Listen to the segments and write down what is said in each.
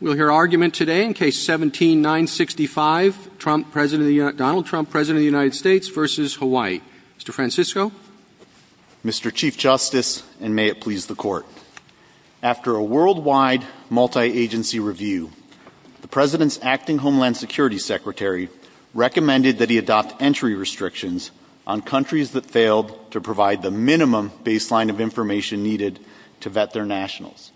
We'll hear argument today in case 17-965, Donald Trump, President of the United States v. Hawaii. Mr. Francisco. Mr. Chief Justice, and may it please the Court. After a worldwide multi-agency review, the President's acting Homeland Security Secretary recommended that he adopt entry restrictions on countries that failed to provide the minimum baseline of information needed to vet their nationals.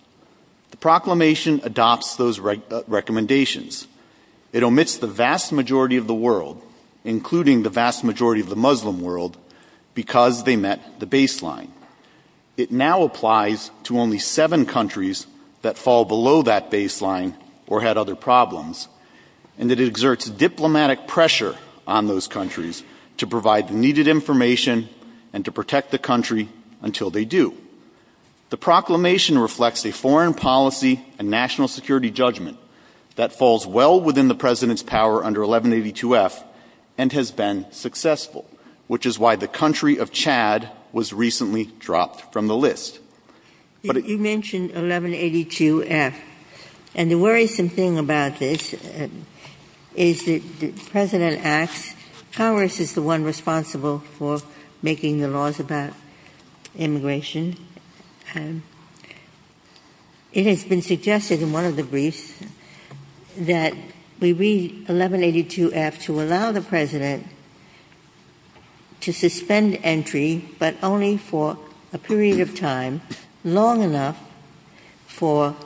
The proclamation adopts those recommendations. It omits the vast majority of the world, including the vast majority of the Muslim world, because they met the baseline. It now applies to only seven countries that fall below that baseline or had other problems, and it exerts diplomatic pressure on those countries to provide the needed information and to protect the country until they do. The proclamation reflects a foreign policy and national security judgment that falls well within the President's power under 1182-F and has been successful, which is why the country of Chad was recently dropped from the list. But it You mentioned 1182-F, and the worrisome thing about this is that the President Congress is the one responsible for making the laws about immigration. It has been suggested in one of the briefs that we read 1182-F to allow the President to suspend entry, but only for a period of time long enough for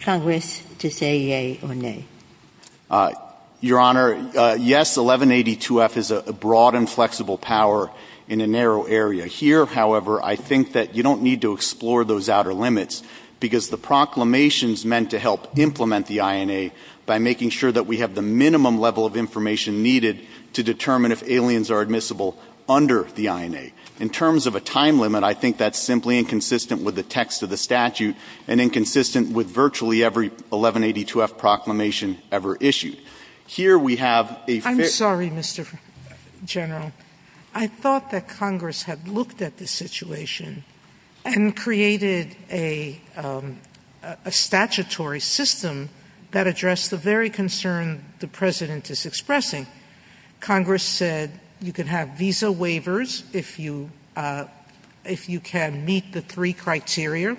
Congress to say yea or nay. Your Honor, yes, 1182-F is a broad and flexible power in a narrow area. Here, however, I think that you don't need to explore those outer limits because the proclamation is meant to help implement the INA by making sure that we have the minimum level of information needed to determine if aliens are admissible under the INA. In terms of a time limit, I think that's simply inconsistent with the text of the statute and inconsistent with virtually every 1182-F proclamation ever issued. Here we have a I'm sorry, Mr. General. I thought that Congress had looked at this situation and created a statutory system that addressed the very concern the President is expressing. Congress said you can have visa waivers if you can meet the three criteria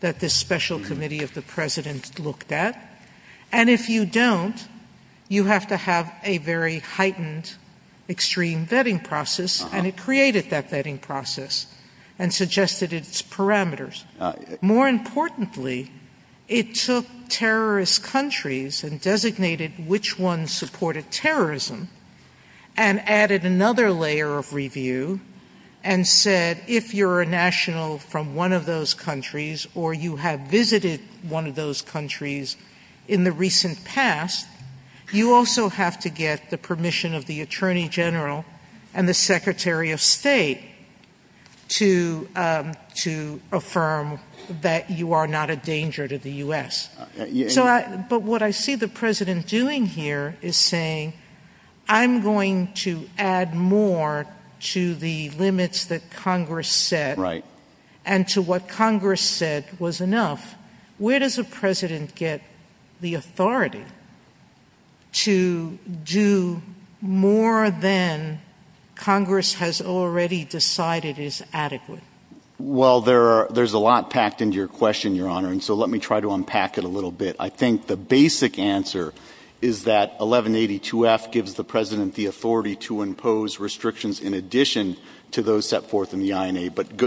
that this special committee of the President looked at. And if you don't, you have to have a very heightened extreme vetting process. And it created that vetting process and suggested its parameters. More importantly, it took terrorist countries and designated which ones supported terrorism and added another layer of review and said if you're a national from one of those countries or you have visited one of those countries in the recent past, you also have to get the permission of the Attorney General and the Secretary of State to affirm that you are not a danger to the U.S. But what I see the President doing here is saying I'm going to add more to the limits that Congress set and to what Congress said was enough. Where does the President get the authority to do more than Congress has already decided is adequate? Well, there's a lot packed into your question, Your Honor. And so let me try to unpack it a little bit. I think the basic answer is that 1182F gives the President the authority to impose restrictions in addition to those set forth in the INA. It might,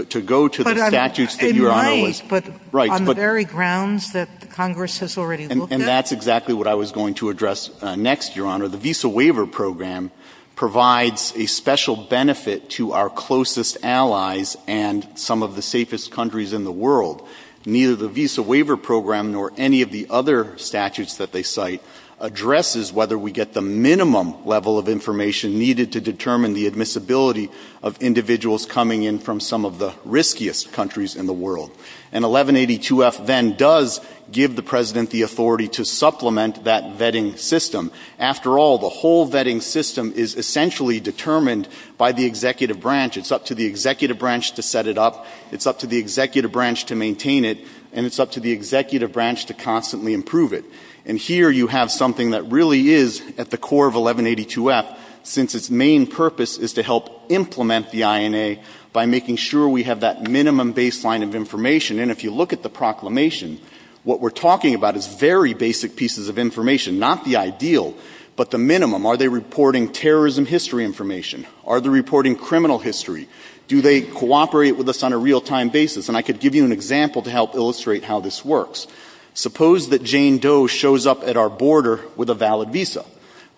but on the very grounds that Congress has already looked at. And that's exactly what I was going to address next, Your Honor. The Visa Waiver Program provides a special benefit to our closest allies and some of the safest countries in the world. Neither the Visa Waiver Program nor any of the other statutes that they cite addresses whether we get the minimum level of information needed to determine the admissibility of individuals coming in from some of the riskiest countries in the world. And 1182F then does give the President the authority to supplement that vetting system. After all, the whole vetting system is essentially determined by the executive branch. It's up to the executive branch to set it up. It's up to the executive branch to maintain it. And it's up to the executive branch to constantly improve it. And here you have something that really is at the core of 1182F, since its main purpose is to help implement the INA by making sure we have that minimum baseline of information. And if you look at the proclamation, what we're talking about is very basic pieces of information. Not the ideal, but the minimum. Are they reporting terrorism history information? Are they reporting criminal history? Do they cooperate with us on a real-time basis? And I could give you an example to help illustrate how this works. Suppose that Jane Doe shows up at our border with a valid visa.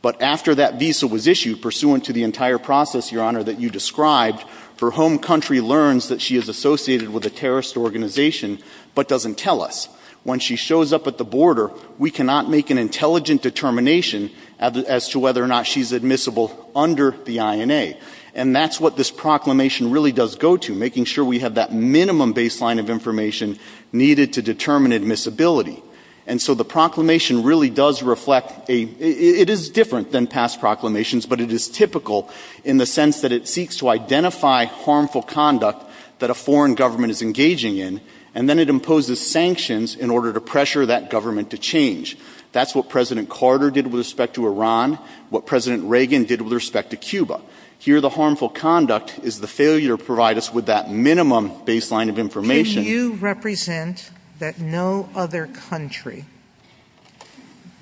But after that visa was issued, pursuant to the entire process, Your Honor, that you described, her home country learns that she is associated with a terrorist organization, but doesn't tell us. When she shows up at the border, we cannot make an intelligent determination as to whether or not she's admissible under the INA. And that's what this proclamation really does go to, making sure we have that minimum baseline of information needed to determine admissibility. And so the proclamation really does reflect a – it is different than past proclamations, but it is typical in the sense that it seeks to identify harmful conduct that a foreign government is engaging in, and then it imposes sanctions in order to pressure that government to change. That's what President Carter did with respect to Iran, what President Reagan did with respect to Cuba. Here, the harmful conduct is the failure to provide us with that minimum baseline of information. Can you represent that no other country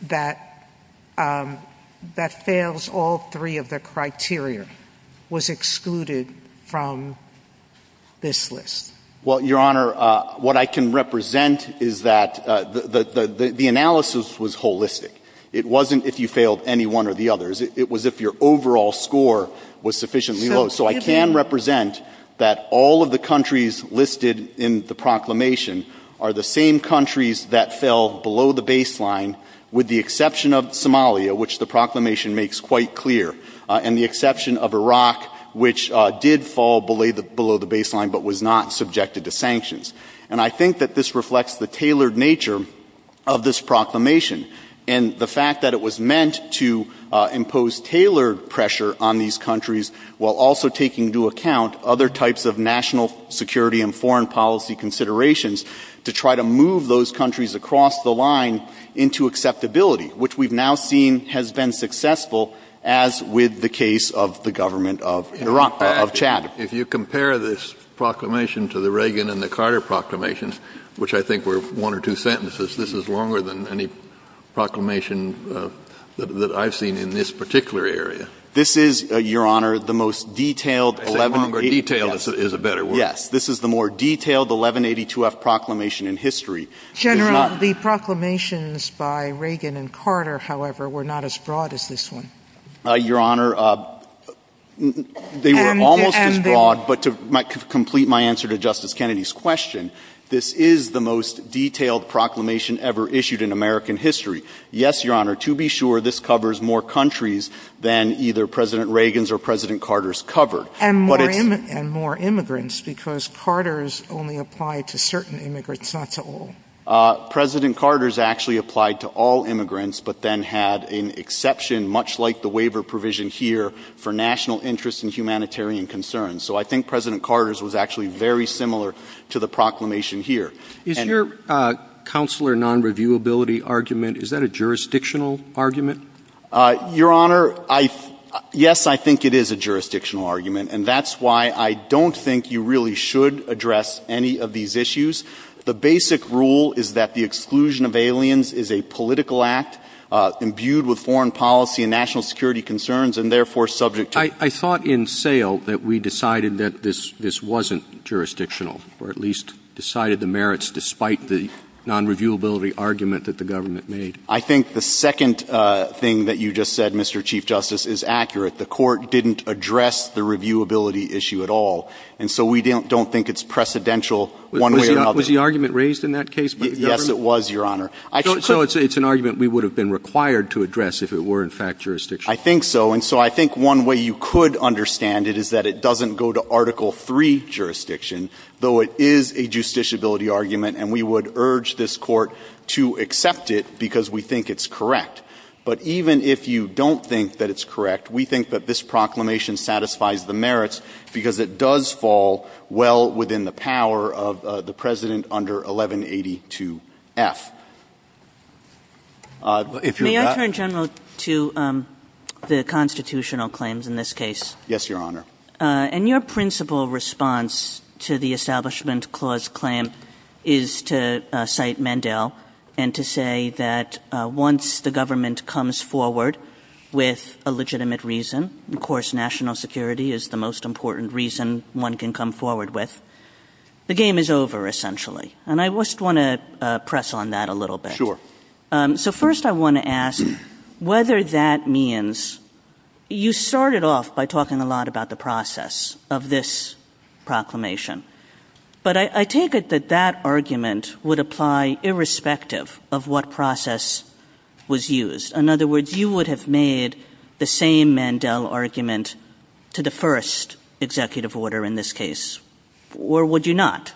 that fails all three of the criteria was excluded from this list? Well, Your Honor, what I can represent is that the analysis was holistic. It wasn't if you failed any one or the others. It was if your overall score was sufficiently low. So I can represent that all of the countries listed in the proclamation are the same countries that fell below the baseline, with the exception of Somalia, which the proclamation makes quite clear, and the exception of Iraq, which did fall below the baseline but was not subjected to sanctions. And I think that this reflects the tailored nature of this proclamation. And the fact that it was meant to impose tailored pressure on these countries while also taking into account other types of national security and foreign policy considerations to try to move those countries across the line into acceptability, which we've now seen has been successful, as with the case of the government of Iraq, of Chad. If you compare this proclamation to the Reagan and the Carter proclamations, which I think were one or two sentences, this is longer than any proclamation that I've seen in this particular area. This is, Your Honor, the most detailed 1182- I say longer detailed is a better word. Yes. This is the more detailed 1182-F proclamation in history. General, the proclamations by Reagan and Carter, however, were not as broad as this one. Your Honor, they were almost as broad, but to complete my answer to Justice Kennedy's question, this is the most detailed proclamation ever issued in American history. Yes, Your Honor, to be sure, this covers more countries than either President Reagan's or President Carter's covered. But it's- And more immigrants, because Carter's only applied to certain immigrants, not to all. President Carter's actually applied to all immigrants, but then had an exception, much like the waiver provision here, for national interests and humanitarian concerns. So I think President Carter's was actually very similar to the proclamation here. Is your counselor non-reviewability argument, is that a jurisdictional argument? Your Honor, yes, I think it is a jurisdictional argument, and that's why I don't think you really should address any of these issues. The basic rule is that the exclusion of aliens is a political act imbued with foreign policy and national security concerns, and therefore subject to- But I thought in Sale that we decided that this wasn't jurisdictional, or at least decided the merits despite the non-reviewability argument that the government made. I think the second thing that you just said, Mr. Chief Justice, is accurate. The Court didn't address the reviewability issue at all, and so we don't think it's precedential one way or another. Was the argument raised in that case by the government? Yes, it was, Your Honor. So it's an argument we would have been required to address if it were, in fact, jurisdictional. I think so, and so I think one way you could understand it is that it doesn't go to Article III jurisdiction, though it is a justiciability argument, and we would urge this Court to accept it because we think it's correct. But even if you don't think that it's correct, we think that this proclamation satisfies the merits because it does fall well within the power of the President under 1182F. May I turn, General, to the constitutional claims in this case? Yes, Your Honor. And your principal response to the Establishment Clause claim is to cite Mandel and to say that once the government comes forward with a legitimate reason, of course, national security is the most important reason one can come forward with, the game is over, essentially. And I just want to press on that a little bit. Sure. So first I want to ask whether that means you started off by talking a lot about the process of this proclamation, but I take it that that argument would apply irrespective of what process was used. In other words, you would have made the same Mandel argument to the first executive order in this case, or would you not?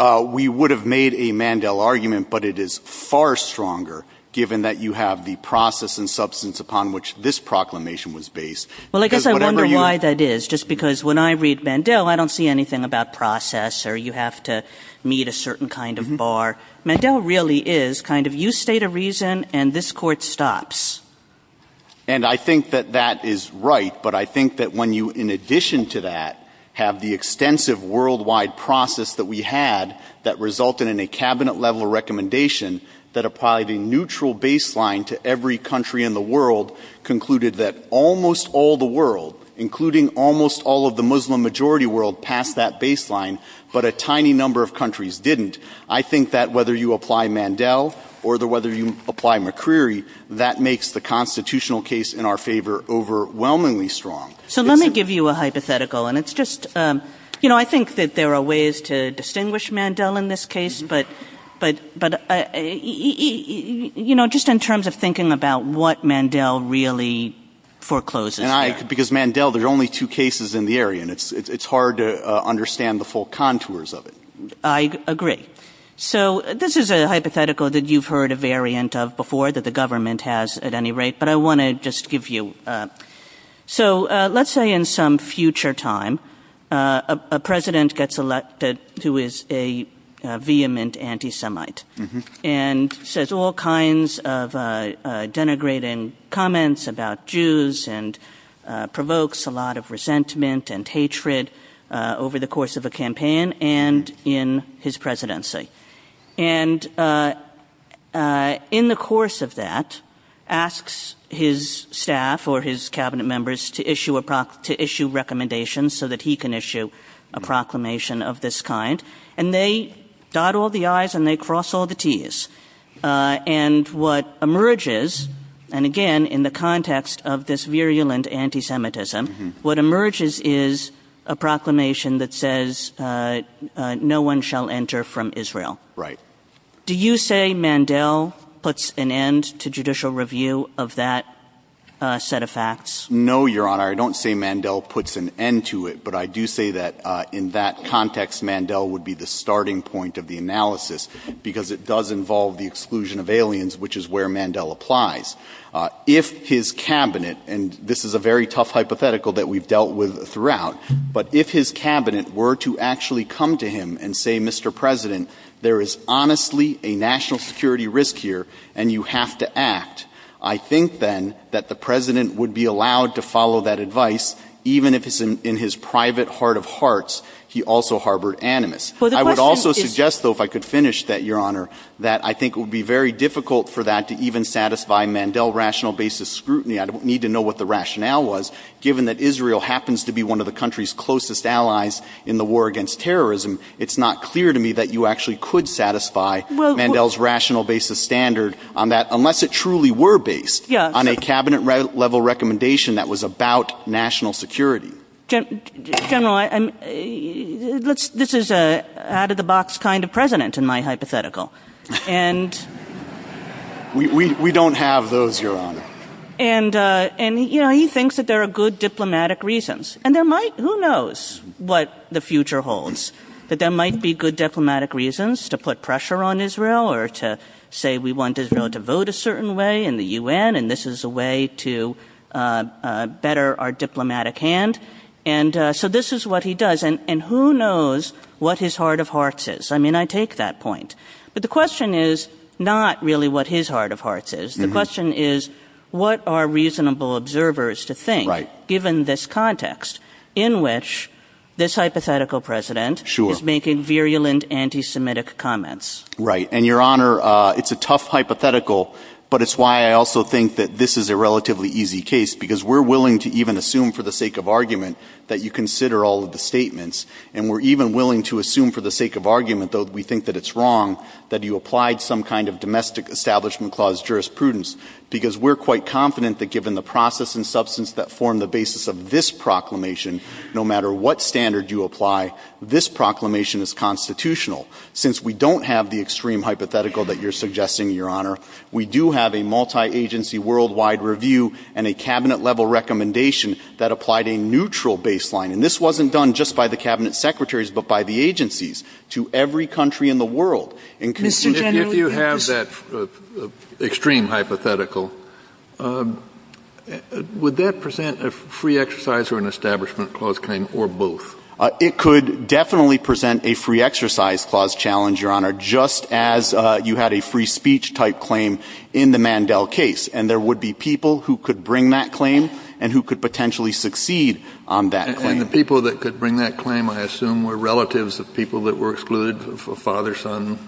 We would have made a Mandel argument, but it is far stronger, given that you have the process and substance upon which this proclamation was based. Well, I guess I wonder why that is, just because when I read Mandel, I don't see anything about process or you have to meet a certain kind of bar. Mandel really is kind of you state a reason and this Court stops. And I think that that is right, but I think that when you, in addition to that, have the extensive worldwide process that we had that resulted in a Cabinet-level recommendation that applied a neutral baseline to every country in the world, concluded that almost all the world, including almost all of the Muslim-majority world, passed that baseline, but a tiny number of countries didn't, I think that whether you apply Mandel or whether you apply McCreary, that makes the constitutional case in our favor overwhelmingly strong. So let me give you a hypothetical, and it's just, you know, I think that there are ways to distinguish Mandel in this case, but, you know, just in terms of thinking about what Mandel really forecloses there. And I, because Mandel, there's only two cases in the area, and it's hard to understand the full contours of it. I agree. So this is a hypothetical that you've heard a variant of before that the government has at any rate, but I want to just give you. So let's say in some future time, a president gets elected who is a vehement anti-Semite and says all kinds of denigrating comments about Jews and provokes a lot of resentment and hatred over the course of a campaign and in his presidency. And in the course of that, asks his staff or his cabinet members to issue recommendations so that he can issue a proclamation of this kind. And they dot all the I's and they cross all the T's. And what emerges, and again, in the context of this virulent anti-Semitism, what emerges is a proclamation that says no one shall enter from Israel. Right. Do you say Mandel puts an end to judicial review of that set of facts? No, Your Honor. I don't say Mandel puts an end to it, but I do say that in that context, Mandel would be the starting point of the analysis because it does involve the exclusion of aliens, which is where Mandel applies. If his cabinet, and this is a very tough hypothetical that we've dealt with throughout, but if his cabinet were to actually come to him and say, Mr. President, there is honestly a national security risk here and you have to act, I think then that the president would be allowed to follow that advice, even if it's in his private heart of hearts he also harbored animus. I would also suggest, though, if I could finish that, Your Honor, that I think it would be very difficult for that to even satisfy Mandel rational basis scrutiny. I don't need to know what the rationale was. Given that Israel happens to be one of the country's closest allies in the war against terrorism, it's not clear to me that you actually could satisfy Mandel's rational basis standard on that, unless it truly were based on a cabinet-level recommendation that was about national security. General, this is an out-of-the-box kind of president in my hypothetical. We don't have those, Your Honor. And he thinks that there are good diplomatic reasons. And who knows what the future holds, that there might be good diplomatic reasons to put pressure on Israel or to say we want Israel to vote a certain way in the UN and this is a way to better our diplomatic hand. And so this is what he does. And who knows what his heart of hearts is? I mean, I take that point. But the question is not really what his heart of hearts is. The question is what are reasonable observers to think given this context in which this hypothetical president is making virulent anti-Semitic comments. Right. And, Your Honor, it's a tough hypothetical, but it's why I also think that this is a relatively easy case because we're willing to even assume for the sake of argument that you consider all of the statements. And we're even willing to assume for the sake of argument, though we think that it's wrong, that you applied some kind of domestic establishment clause jurisprudence because we're quite confident that given the process and substance that form the basis of this proclamation, no matter what standard you apply, this proclamation is constitutional. Since we don't have the extreme hypothetical that you're suggesting, Your Honor, we do have a multi-agency worldwide review and a cabinet-level recommendation that applied a neutral baseline. And this wasn't done just by the cabinet secretaries but by the agencies to every country in the world. Mr. General. If you have that extreme hypothetical, would that present a free exercise or an establishment clause claim or both? It could definitely present a free exercise clause challenge, Your Honor, just as you had a free speech-type claim in the Mandel case. And there would be people who could bring that claim and who could potentially succeed on that claim. And the people that could bring that claim, I assume, were relatives of people that were excluded, a father, son?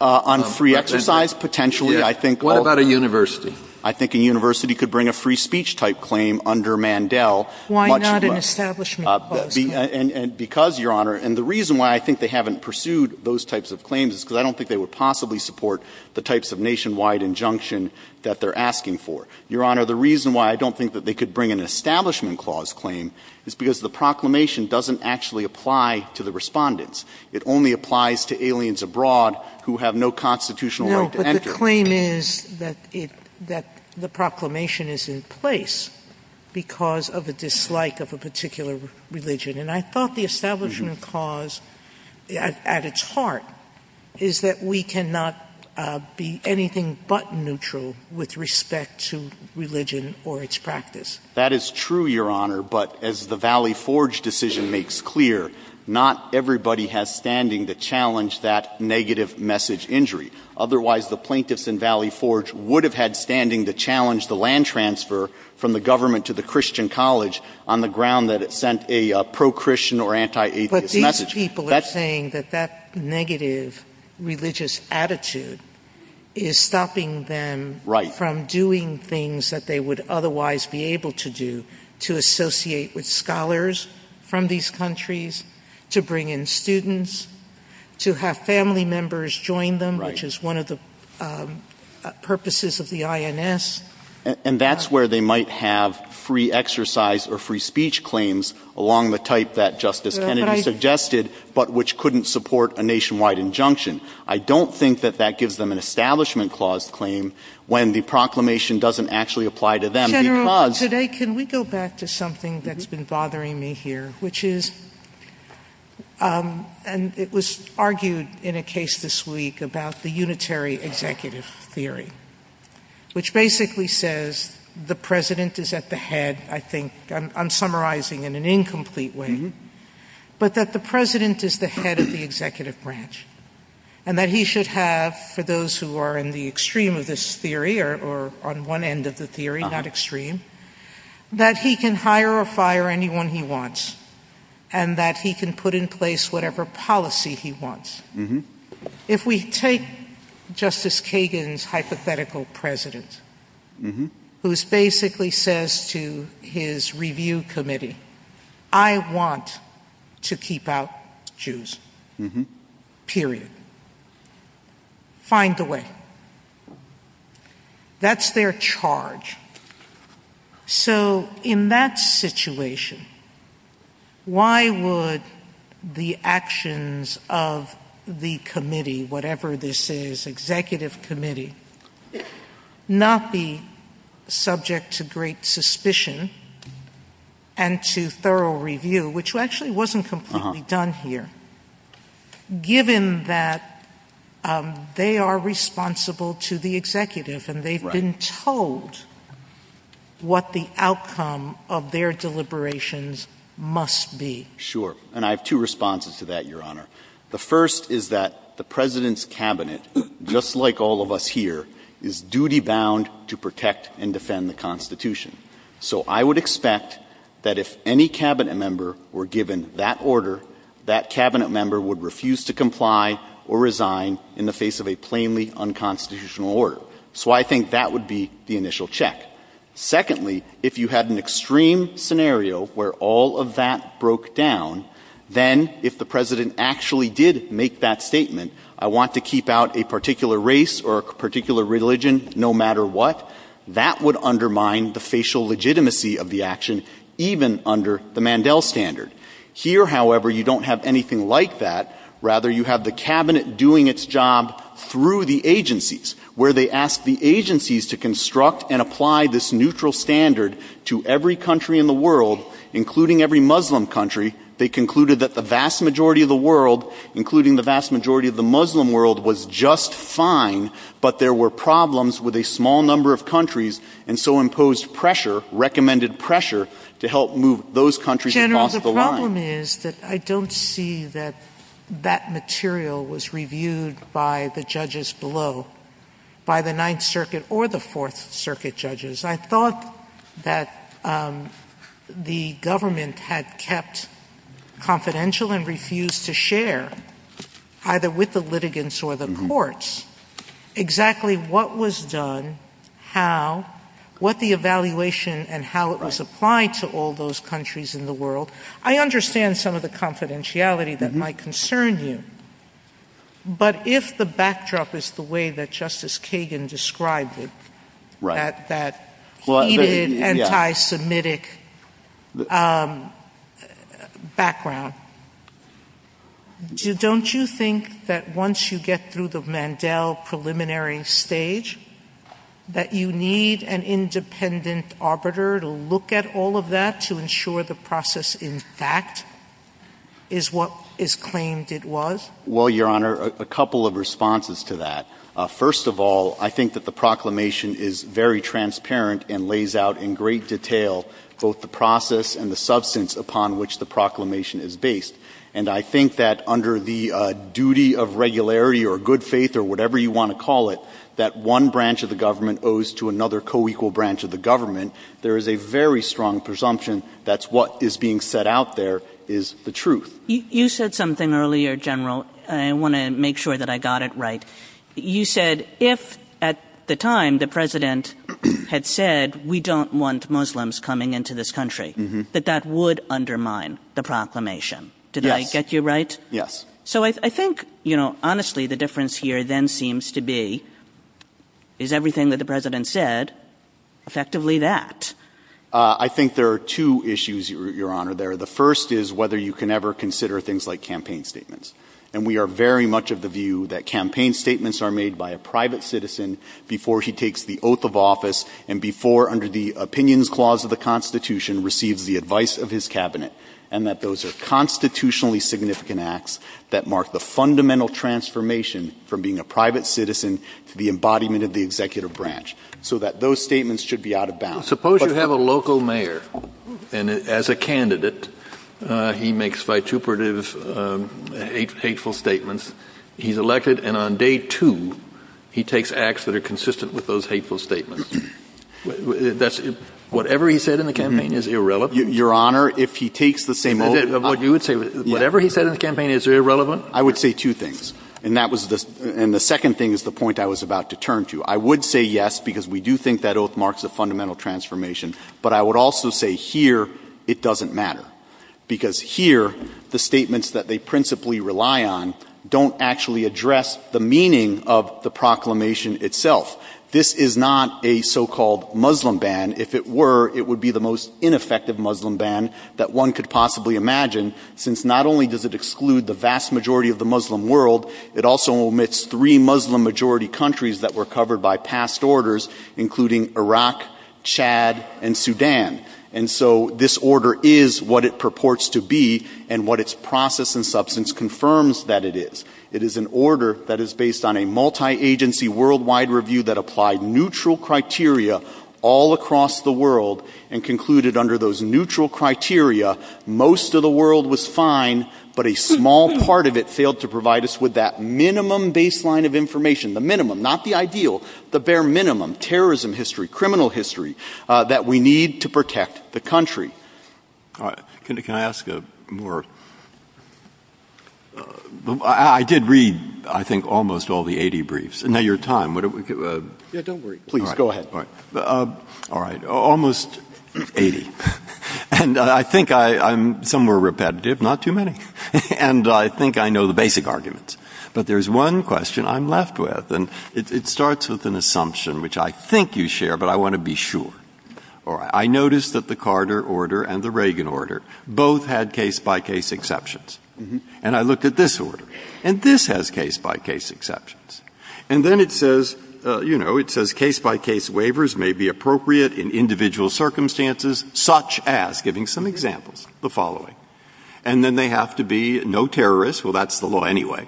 On free exercise, potentially, I think. What about a university? I think a university could bring a free speech-type claim under Mandel much less. Why not an establishment clause claim? Because, Your Honor, and the reason why I think they haven't pursued those types of claims is because I don't think they would possibly support the types of nationwide injunction that they're asking for. Your Honor, the reason why I don't think that they could bring an establishment clause claim is because the proclamation doesn't actually apply to the respondents. It only applies to aliens abroad who have no constitutional right to enter. No, but the claim is that it – that the proclamation is in place because of a dislike of a particular religion. And I thought the establishment clause, at its heart, is that we cannot be anything but neutral with respect to religion or its practice. That is true, Your Honor. But as the Valley Forge decision makes clear, not everybody has standing to challenge that negative message injury. Otherwise, the plaintiffs in Valley Forge would have had standing to challenge the land transfer from the government to the Christian college on the ground that it sent a pro-Christian or anti-atheist message. But these people are saying that that negative religious attitude is stopping them from doing things that they would otherwise be able to do, to associate with scholars from these countries, to bring in students, to have family members join them, which is one of the purposes of the INS. And that's where they might have free exercise or free speech claims along the type that Justice Kennedy suggested, but which couldn't support a nationwide injunction. I don't think that that gives them an establishment clause claim when the proclamation doesn't actually apply to them because — Sotomayor, today, can we go back to something that's been bothering me here, which is — and it was argued in a case this week about the unitary executive theory, which basically says the President is at the head, I think — I'm summarizing in an incomplete way — but that the President is the head of the executive branch and that he should have, for those who are in the extreme of this theory or on one end of the theory, not extreme, that he can hire or fire anyone he wants and that he can put in place whatever policy he wants. If we take Justice Kagan's hypothetical president, who basically says to his review committee, I want to keep out Jews, period. Find a way. That's their charge. So in that situation, why would the actions of the committee, whatever this is, the executive committee, not be subject to great suspicion and to thorough review, which actually wasn't completely done here, given that they are responsible to the executive and they've been told what the outcome of their deliberations must be? Sure. And I have two responses to that, Your Honor. The first is that the President's Cabinet, just like all of us here, is duty-bound to protect and defend the Constitution. So I would expect that if any Cabinet member were given that order, that Cabinet member would refuse to comply or resign in the face of a plainly unconstitutional order. So I think that would be the initial check. Secondly, if you had an extreme scenario where all of that broke down, then if the President actually did make that statement, I want to keep out a particular race or a particular religion no matter what, that would undermine the facial legitimacy of the action, even under the Mandel standard. Here, however, you don't have anything like that. Rather, you have the Cabinet doing its job through the agencies, where they ask the agencies to construct and apply this neutral standard to every country in the world, including every Muslim country. They concluded that the vast majority of the world, including the vast majority of the Muslim world, was just fine, but there were problems with a small number of countries and so imposed pressure, recommended pressure, to help move those countries across the line. Sotomayor General, the problem is that I don't see that that material was reviewed by the judges below, by the Ninth Circuit or the Fourth Circuit judges. I thought that the government had kept confidential and refused to share, either with the litigants or the courts, exactly what was done, how, what the evaluation and how it was applied to all those countries in the world. I understand some of the confidentiality that might concern you, but if the anti-Semitic background, don't you think that once you get through the Mandel preliminary stage, that you need an independent arbiter to look at all of that to ensure the process, in fact, is what is claimed it was? Well, Your Honor, a couple of responses to that. First of all, I think that the proclamation is very transparent and lays out in great detail both the process and the substance upon which the proclamation is based. And I think that under the duty of regularity or good faith or whatever you want to call it, that one branch of the government owes to another co-equal branch of the government, there is a very strong presumption that's what is being set out there is the truth. You said something earlier, General, and I want to make sure that I got it right. You said if at the time the President had said we don't want Muslims coming into this country, that that would undermine the proclamation. Yes. Did I get you right? Yes. So I think, you know, honestly, the difference here then seems to be is everything that the President said effectively that. I think there are two issues, Your Honor, there. The first is whether you can ever consider things like campaign statements. And we are very much of the view that campaign statements are made by a private citizen before he takes the oath of office and before, under the Opinions Clause of the Constitution, receives the advice of his Cabinet, and that those are constitutionally significant acts that mark the fundamental transformation from being a private citizen to the embodiment of the executive branch, so that those statements should be out of bounds. Suppose you have a local mayor, and as a candidate, he makes vituperative, hateful statements. He's elected, and on day two, he takes acts that are consistent with those hateful statements. Whatever he said in the campaign is irrelevant? Your Honor, if he takes the same oath as I did. Whatever he said in the campaign is irrelevant? I would say two things. And that was the – and the second thing is the point I was about to turn to. I would say yes, because we do think that oath marks a fundamental transformation. But I would also say here, it doesn't matter. Because here, the statements that they principally rely on don't actually address the meaning of the proclamation itself. This is not a so-called Muslim ban. If it were, it would be the most ineffective Muslim ban that one could possibly imagine, since not only does it exclude the vast majority of the Muslim world, it also omits three Muslim-majority countries that were covered by past orders, including Iraq, Chad, and Sudan. And so this order is what it purports to be, and what its process and substance confirms that it is. It is an order that is based on a multi-agency worldwide review that applied neutral criteria all across the world, and concluded under those neutral criteria, most of the world was fine, but a small part of it failed to provide us with that minimum baseline of information, the minimum, not the ideal, the bare minimum, terrorism history, criminal history, that we need to protect the country. All right. Can I ask a more — I did read, I think, almost all the 80 briefs. Now, your time. Yeah, don't worry. Please, go ahead. All right. All right. Almost 80. And I think I'm somewhere repetitive, not too many. And I think I know the basic arguments. But there's one question I'm left with, and it starts with an assumption, which I think you share, but I want to be sure. All right. I noticed that the Carter order and the Reagan order both had case-by-case exceptions. And I looked at this order, and this has case-by-case exceptions. And then it says, you know, it says case-by-case waivers may be appropriate in individual circumstances, such as, giving some examples, the following. And then they have to be no terrorists. Well, that's the law anyway.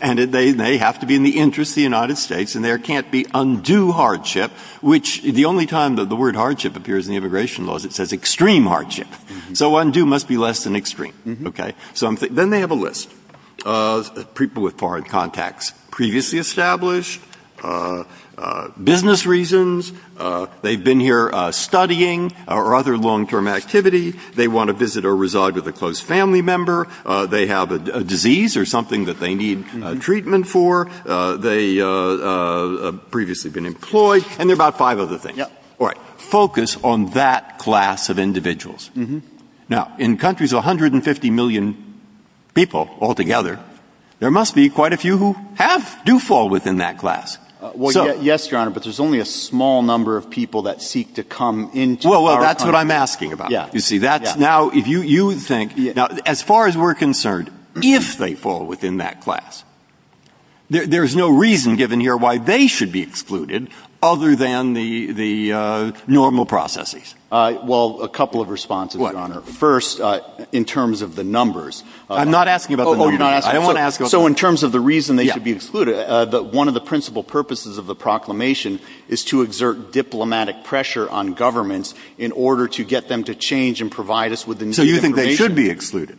And they have to be in the interest of the United States. And there can't be undue hardship, which the only time that the word hardship appears in the immigration law is it says extreme hardship. So undue must be less than extreme. Okay? Then they have a list of people with foreign contacts, previously established, business reasons. They've been here studying or other long-term activity. They want to visit or reside with a close family member. They have a disease or something that they need treatment for. They have previously been employed. And there are about five other things. All right. Focus on that class of individuals. Now, in countries of 150 million people altogether, there must be quite a few who have, do fall within that class. Well, yes, Your Honor, but there's only a small number of people that seek to come into our country. Well, that's what I'm asking about. You see, that's now, if you think, now, as far as we're concerned, if they fall within that class, there's no reason given here why they should be excluded other than the normal processes. Well, a couple of responses, Your Honor. First, in terms of the numbers. I'm not asking about the numbers. Oh, you're not asking. I don't want to ask about the numbers. So in terms of the reason they should be excluded, one of the principal purposes of the proclamation is to exert diplomatic pressure on governments in order to get them to change and provide us with the new information. So you think they should be excluded?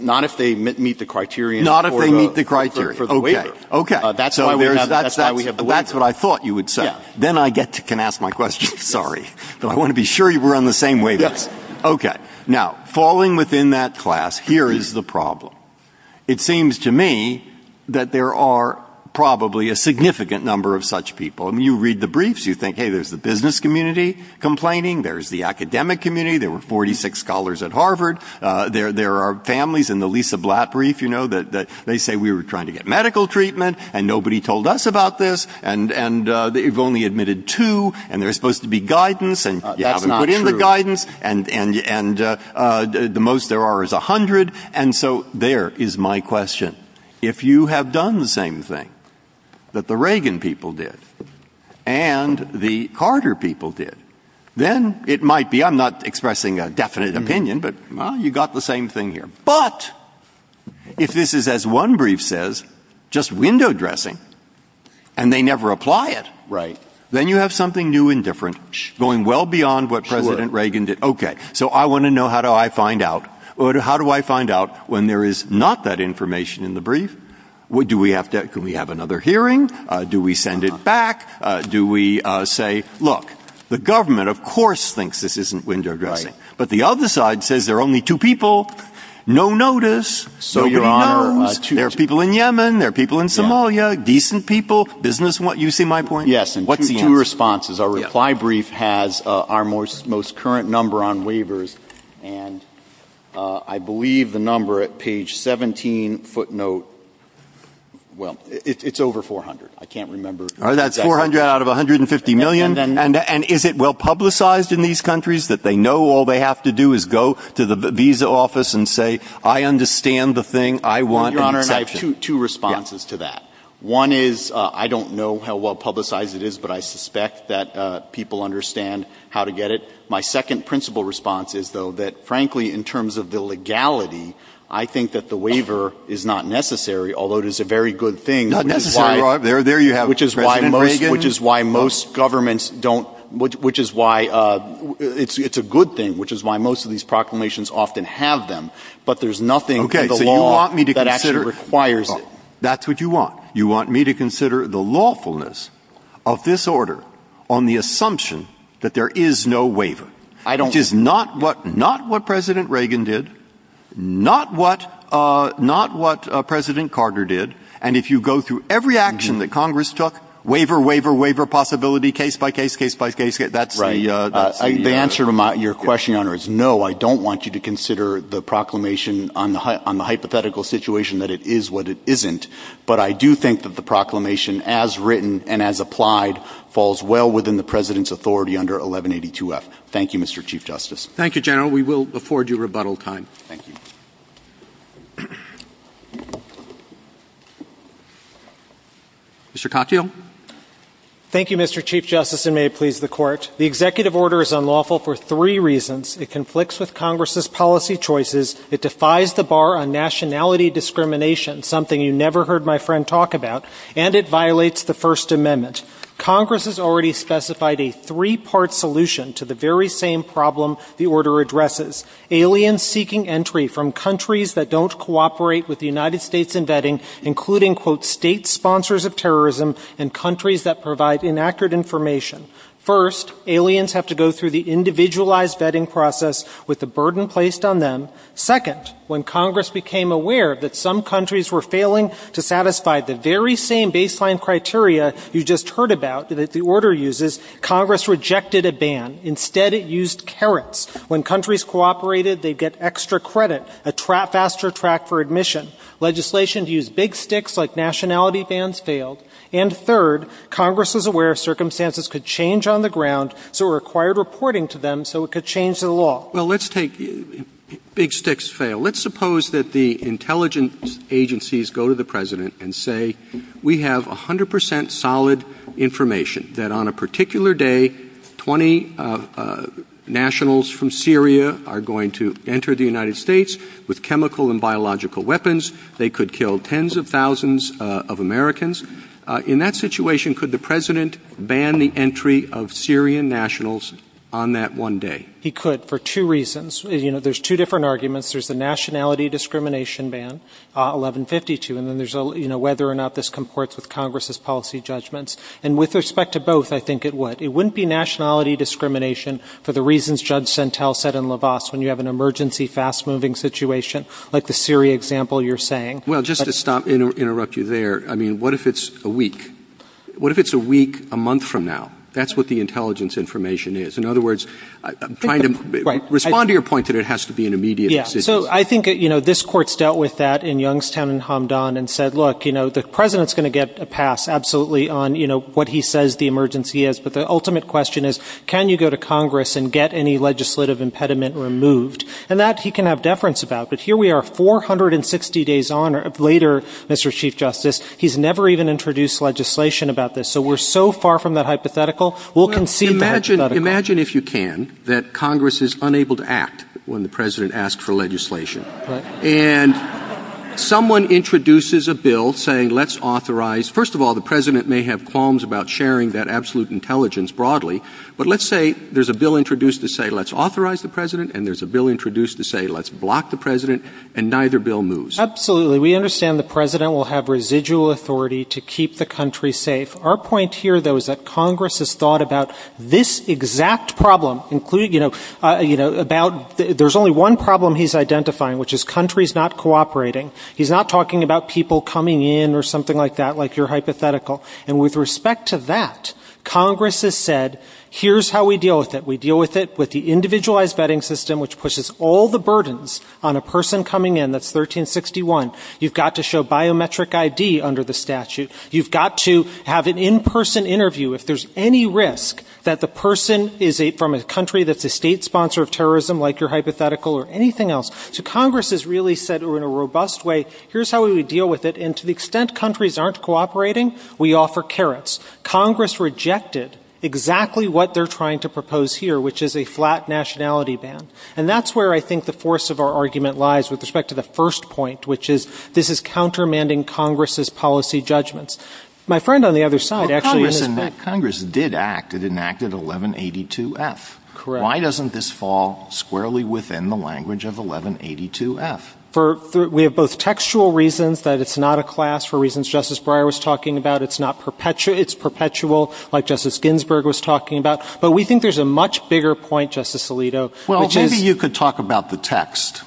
Not if they meet the criteria for the waiver. Not if they meet the criteria. Okay. Okay. That's why we have the waiver. That's what I thought you would say. Yes. Then I can ask my question. Sorry. But I want to be sure you were on the same wavelength. Yes. Okay. Now, falling within that class, here is the problem. It seems to me that there are probably a significant number of such people. I mean, you read the briefs. You think, hey, there's the business community complaining. There's the academic community. There were 46 scholars at Harvard. There are families in the Lisa Blatt brief, you know, that they say we were trying to get medical treatment, and nobody told us about this, and you've only admitted two, and there's supposed to be guidance, and you haven't put in the guidance. That's not true. And the most there are is 100. And so there is my question. If you have done the same thing that the Reagan people did and the Carter people did, then it might be, I'm not expressing a definite opinion, but, well, you got the same thing here. But if this is, as one brief says, just window dressing, and they never apply it, then you have something new and different going well beyond what President Reagan did. Okay. So I want to know how do I find out, or how do I find out when there is not that information in the brief? Do we have to, can we have another hearing? Do we send it back? Do we say, look, the government, of course, thinks this isn't window dressing, but the other side says there are only two people, no notice, nobody knows, there are people in Yemen, there are people in Somalia, decent people, business, you see my point? Yes. And two responses. Our reply brief has our most current number on waivers, and I believe the number at page 17 footnote, well, it's over 400. I can't remember. That's 400 out of 150 million? And is it well publicized in these countries that they know all they have to do is go to the visa office and say, I understand the thing, I want an exception? Your Honor, I have two responses to that. One is, I don't know how well publicized it is, but I suspect that people understand how to get it. My second principle response is, though, that, frankly, in terms of the legality, I think that the waiver is not necessary, although it is a very good thing. Not necessary. There you have it, President Reagan. Which is why most governments don't, which is why it's a good thing, which is why most of these proclamations often have them, but there's nothing in the law that Okay, so you want me to consider, that's what you want. You want me to consider the lawfulness of this order on the assumption that there is no waiver. I don't. Which is not what President Reagan did, not what President Carter did. And if you go through every action that Congress took, waiver, waiver, waiver, possibility, case by case, case by case, that's the answer. The answer to your question, Your Honor, is no, I don't want you to consider the proclamation on the hypothetical situation that it is what it isn't, but I do think that the proclamation as written and as applied falls well within the President's authority under 1182F. Thank you, Mr. Chief Justice. Thank you, General. We will afford you rebuttal time. Thank you. Mr. Katyal. Thank you, Mr. Chief Justice, and may it please the Court. The executive order is unlawful for three reasons. It conflicts with Congress's policy choices. It defies the bar on nationality discrimination, something you never heard my friend talk about. And it violates the First Amendment. Congress has already specified a three-part solution to the very same problem the order addresses. Aliens seeking entry from the United States. Aliens seeking entry from countries that don't cooperate with the United States in vetting, including, quote, state sponsors of terrorism and countries that provide inaccurate information. First, aliens have to go through the individualized vetting process with the burden placed on them. Second, when Congress became aware that some countries were failing to satisfy the very same baseline criteria you just heard about that the order uses, Congress rejected a ban. Instead, it used carrots. When countries cooperated, they'd get extra credit, a faster track for admission. Legislation used big sticks like nationality bans failed. And third, Congress was aware circumstances could change on the ground, so it required reporting to them so it could change the law. Well, let's take big sticks fail. Let's suppose that the intelligence agencies go to the President and say, we have 100% solid information that on a particular day, 20 nationals from Syria are going to enter the United States with chemical and biological weapons. They could kill tens of thousands of Americans. In that situation, could the President ban the entry of Syrian nationals on that one day? He could for two reasons. You know, there's two different arguments. There's the nationality discrimination ban, 1152. And then there's a, you know, whether or not this comports with Congress's policy judgments. And with respect to both, I think it would. It wouldn't be nationality discrimination for the reasons Judge Sentel said in Lavasse when you have an emergency, fast-moving situation like the Syria example you're saying. Roberts. Well, just to stop and interrupt you there, I mean, what if it's a week? What if it's a week, a month from now? That's what the intelligence information is. In other words, I'm trying to respond to your point that it has to be an immediate decision. So I think, you know, this Court's dealt with that in Youngstown and Hamdan and said, look, you know, the President's going to get a pass absolutely on, you know, what he says the emergency is. But the ultimate question is, can you go to Congress and get any legislative impediment removed? And that he can have deference about. But here we are, 460 days on or later, Mr. Chief Justice, he's never even introduced legislation about this. So we're so far from that hypothetical. We'll concede that hypothetical. Imagine if you can that Congress is unable to act when the President asks for legislation. And someone introduces a bill saying let's authorize. First of all, the President may have qualms about sharing that absolute intelligence broadly. But let's say there's a bill introduced to say let's authorize the President and there's a bill introduced to say let's block the President and neither bill moves. Absolutely. We understand the President will have residual authority to keep the country safe. Our point here, though, is that Congress has thought about this exact problem, including, you know, about there's only one problem he's identifying, which is countries not cooperating. He's not talking about people coming in or something like that, like your hypothetical. And with respect to that, Congress has said, here's how we deal with it. We deal with it with the individualized vetting system, which pushes all the burdens on a person coming in. That's 1361. You've got to show biometric ID under the statute. You've got to have an in-person interview. If there's any risk that the person is from a country that's a state sponsor of terrorism, like your hypothetical, or anything else. So Congress has really said in a robust way, here's how we deal with it. And to the extent countries aren't cooperating, we offer carrots. Congress rejected exactly what they're trying to propose here, which is a flat nationality ban. And that's where I think the force of our argument lies with respect to the first point, which is this is countermanding Congress's policy judgments. My friend on the other side actually has been. But Congress did act. It enacted 1182F. Correct. Why doesn't this fall squarely within the language of 1182F? We have both textual reasons that it's not a class, for reasons Justice Breyer was talking about. It's not perpetual. It's perpetual, like Justice Ginsburg was talking about. But we think there's a much bigger point, Justice Alito, which is — Well, maybe you could talk about the text.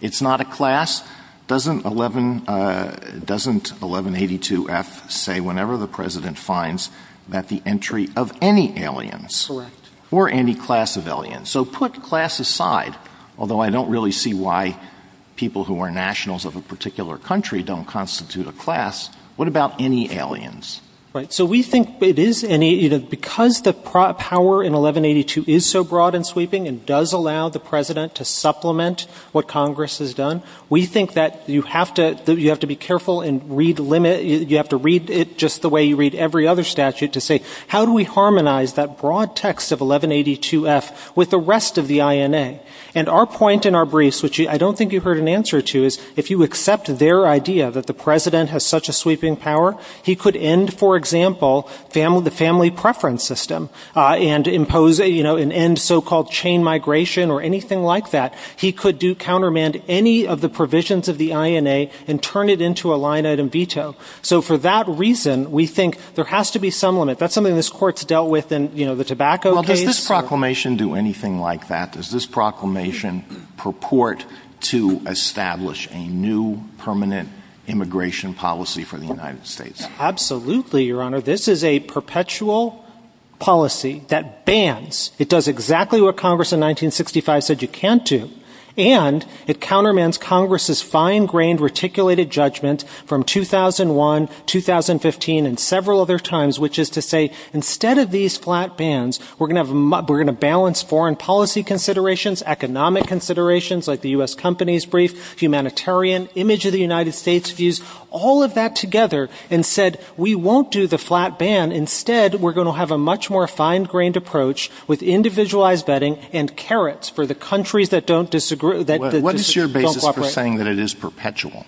It's not a class. Doesn't 1182F say whenever the President finds that the entry of any aliens — Correct. — or any class of aliens. So put class aside, although I don't really see why people who are nationals of a particular country don't constitute a class. What about any aliens? Right. So we think it is — because the power in 1182 is so broad and sweeping and does allow the President to supplement what Congress has done, we think that you have to be careful and read — you have to read it just the way you read every other statute to say, how do we harmonize that broad text of 1182F with the rest of the INA? And our point in our briefs, which I don't think you heard an answer to, is if you accept their idea that the President has such a sweeping power, he could end, for example, the family preference system and impose — you know, and so-called chain migration or anything like that. He could do — countermand any of the provisions of the INA and turn it into a line-item veto. So for that reason, we think there has to be some limit. That's something this Court's dealt with in, you know, the tobacco case. Well, does this proclamation do anything like that? Does this proclamation purport to establish a new permanent immigration policy for the United States? Absolutely, Your Honor. This is a perpetual policy that bans. It does exactly what Congress in 1965 said you can't do. And it countermands Congress's fine-grained, reticulated judgment from 2001, 2015, and several other times, which is to say, instead of these flat bans, we're going to have — we're going to balance foreign policy considerations, economic considerations, like the U.S. Company's brief, humanitarian, image of the United States views, all of that together, and said, we won't do the flat ban. Instead, we're going to have a much more fine-grained approach with individualized betting and carrots for the countries that don't — What is your basis for saying that it is perpetual?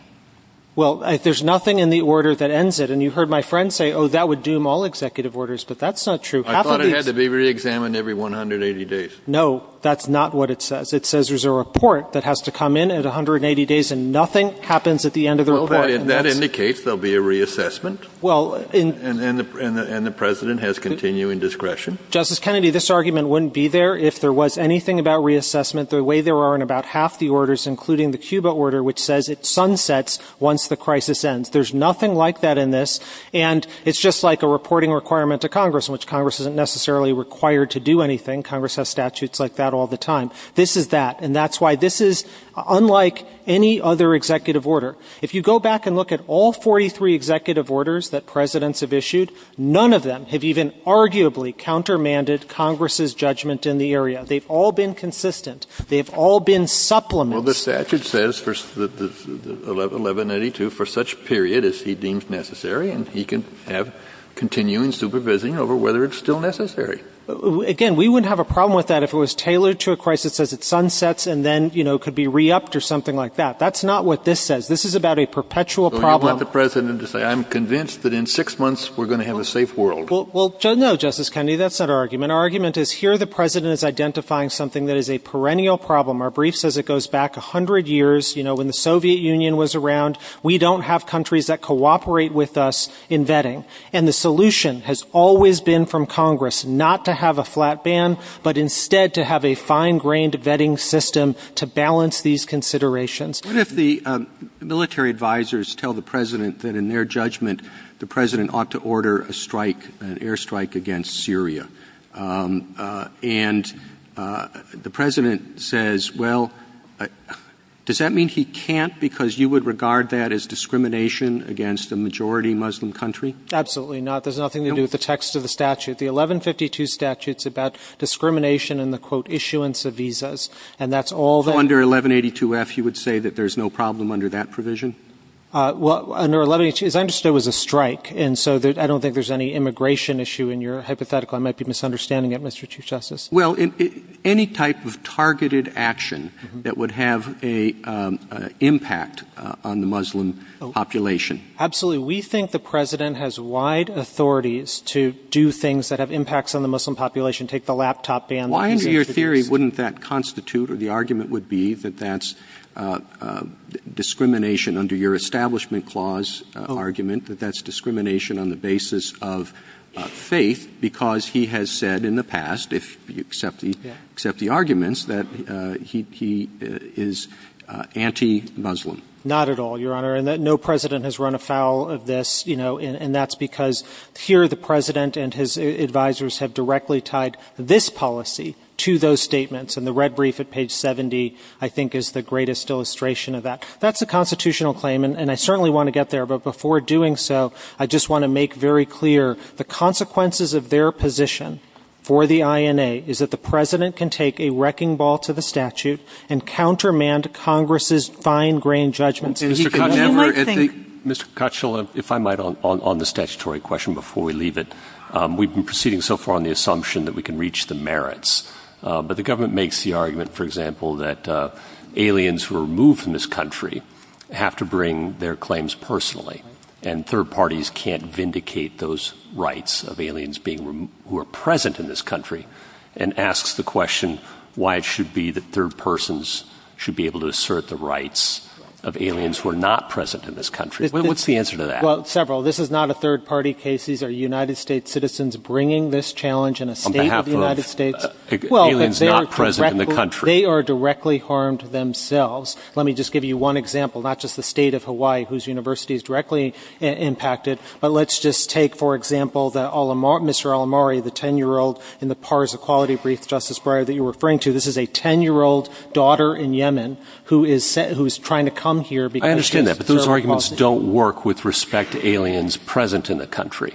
Well, there's nothing in the order that ends it. And you heard my friend say, oh, that would doom all executive orders. But that's not true. I thought it had to be reexamined every 180 days. No, that's not what it says. It says there's a report that has to come in at 180 days, and nothing happens at the end of the report. Well, that indicates there will be a reassessment. Well — And the president has continuing discretion. Justice Kennedy, this argument wouldn't be there if there was anything about reassessment the way there are in about half the orders, including the Cuba order, which says it sunsets once the crisis ends. There's nothing like that in this. And it's just like a reporting requirement to Congress, in which Congress isn't necessarily required to do anything. Congress has statutes like that all the time. This is that. And that's why this is unlike any other executive order. If you go back and look at all 43 executive orders that presidents have issued, none of them have even arguably countermanded Congress's judgment in the area. They've all been consistent. They've all been supplements. Well, the statute says for 1192, for such period as he deems necessary, and he can have continuing supervising over whether it's still necessary. Again, we wouldn't have a problem with that if it was tailored to a crisis as it sunsets and then, you know, could be re-upped or something like that. That's not what this says. This is about a perpetual problem. So you want the president to say, I'm convinced that in six months we're going to have a safe world. Well, no, Justice Kennedy, that's not our argument. Our argument is here the president is identifying something that is a perennial problem. Our brief says it goes back 100 years. You know, when the Soviet Union was around, we don't have countries that cooperate with us in vetting. And the solution has always been from Congress not to have a flat ban, but instead to have a fine-grained vetting system to balance these considerations. What if the military advisers tell the president that in their judgment the president ought to order a strike, an airstrike against Syria? And the president says, well, does that mean he can't because you would regard that as discrimination against a majority Muslim country? Absolutely not. There's nothing to do with the text of the statute. The 1152 statute is about discrimination and the, quote, issuance of visas. And that's all that — So under 1182-F you would say that there's no problem under that provision? Well, under 1182, as I understood, it was a strike. And so I don't think there's any immigration issue in your hypothetical. I might be misunderstanding it, Mr. Chief Justice. Well, any type of targeted action that would have an impact on the Muslim population. Absolutely. We think the president has wide authorities to do things that have impacts on the Muslim population, take the laptop ban. Why, under your theory, wouldn't that constitute or the argument would be that that's discrimination under your Establishment Clause argument, that that's discrimination on the basis of faith because he has said in the past, if you accept the arguments, that he is anti-Muslim? Not at all, Your Honor. No president has run afoul of this, you know, and that's because here the president and his advisers have directly tied this policy to those statements. And the red brief at page 70, I think, is the greatest illustration of that. That's a constitutional claim, and I certainly want to get there. But before doing so, I just want to make very clear the consequences of their position for the INA is that the president can take a wrecking ball to the statute and countermand Congress's fine-grained judgments. Mr. Kuchel, if I might, on the statutory question before we leave it. We've been proceeding so far on the assumption that we can reach the merits, but the government makes the argument, for example, that aliens who are removed from this country have to bring their claims personally, and third parties can't vindicate those rights of aliens who are present in this country, and asks the question why it should be that third persons should be able to assert the rights of aliens who are not present in this country. What's the answer to that? Well, several. This is not a third-party case. These are United States citizens bringing this challenge in a state of the United States. On behalf of aliens not present in the country. Well, they are directly harmed themselves. Let me just give you one example, not just the state of Hawaii, whose universities directly impacted, but let's just take, for example, Mr. Alamari, the 10-year-old in the PARS Equality Brief, Justice Breyer, that you're referring to. This is a 10-year-old daughter in Yemen who is trying to come here because she has certain qualifications. I understand that, but those arguments don't work with respect to aliens present in the country.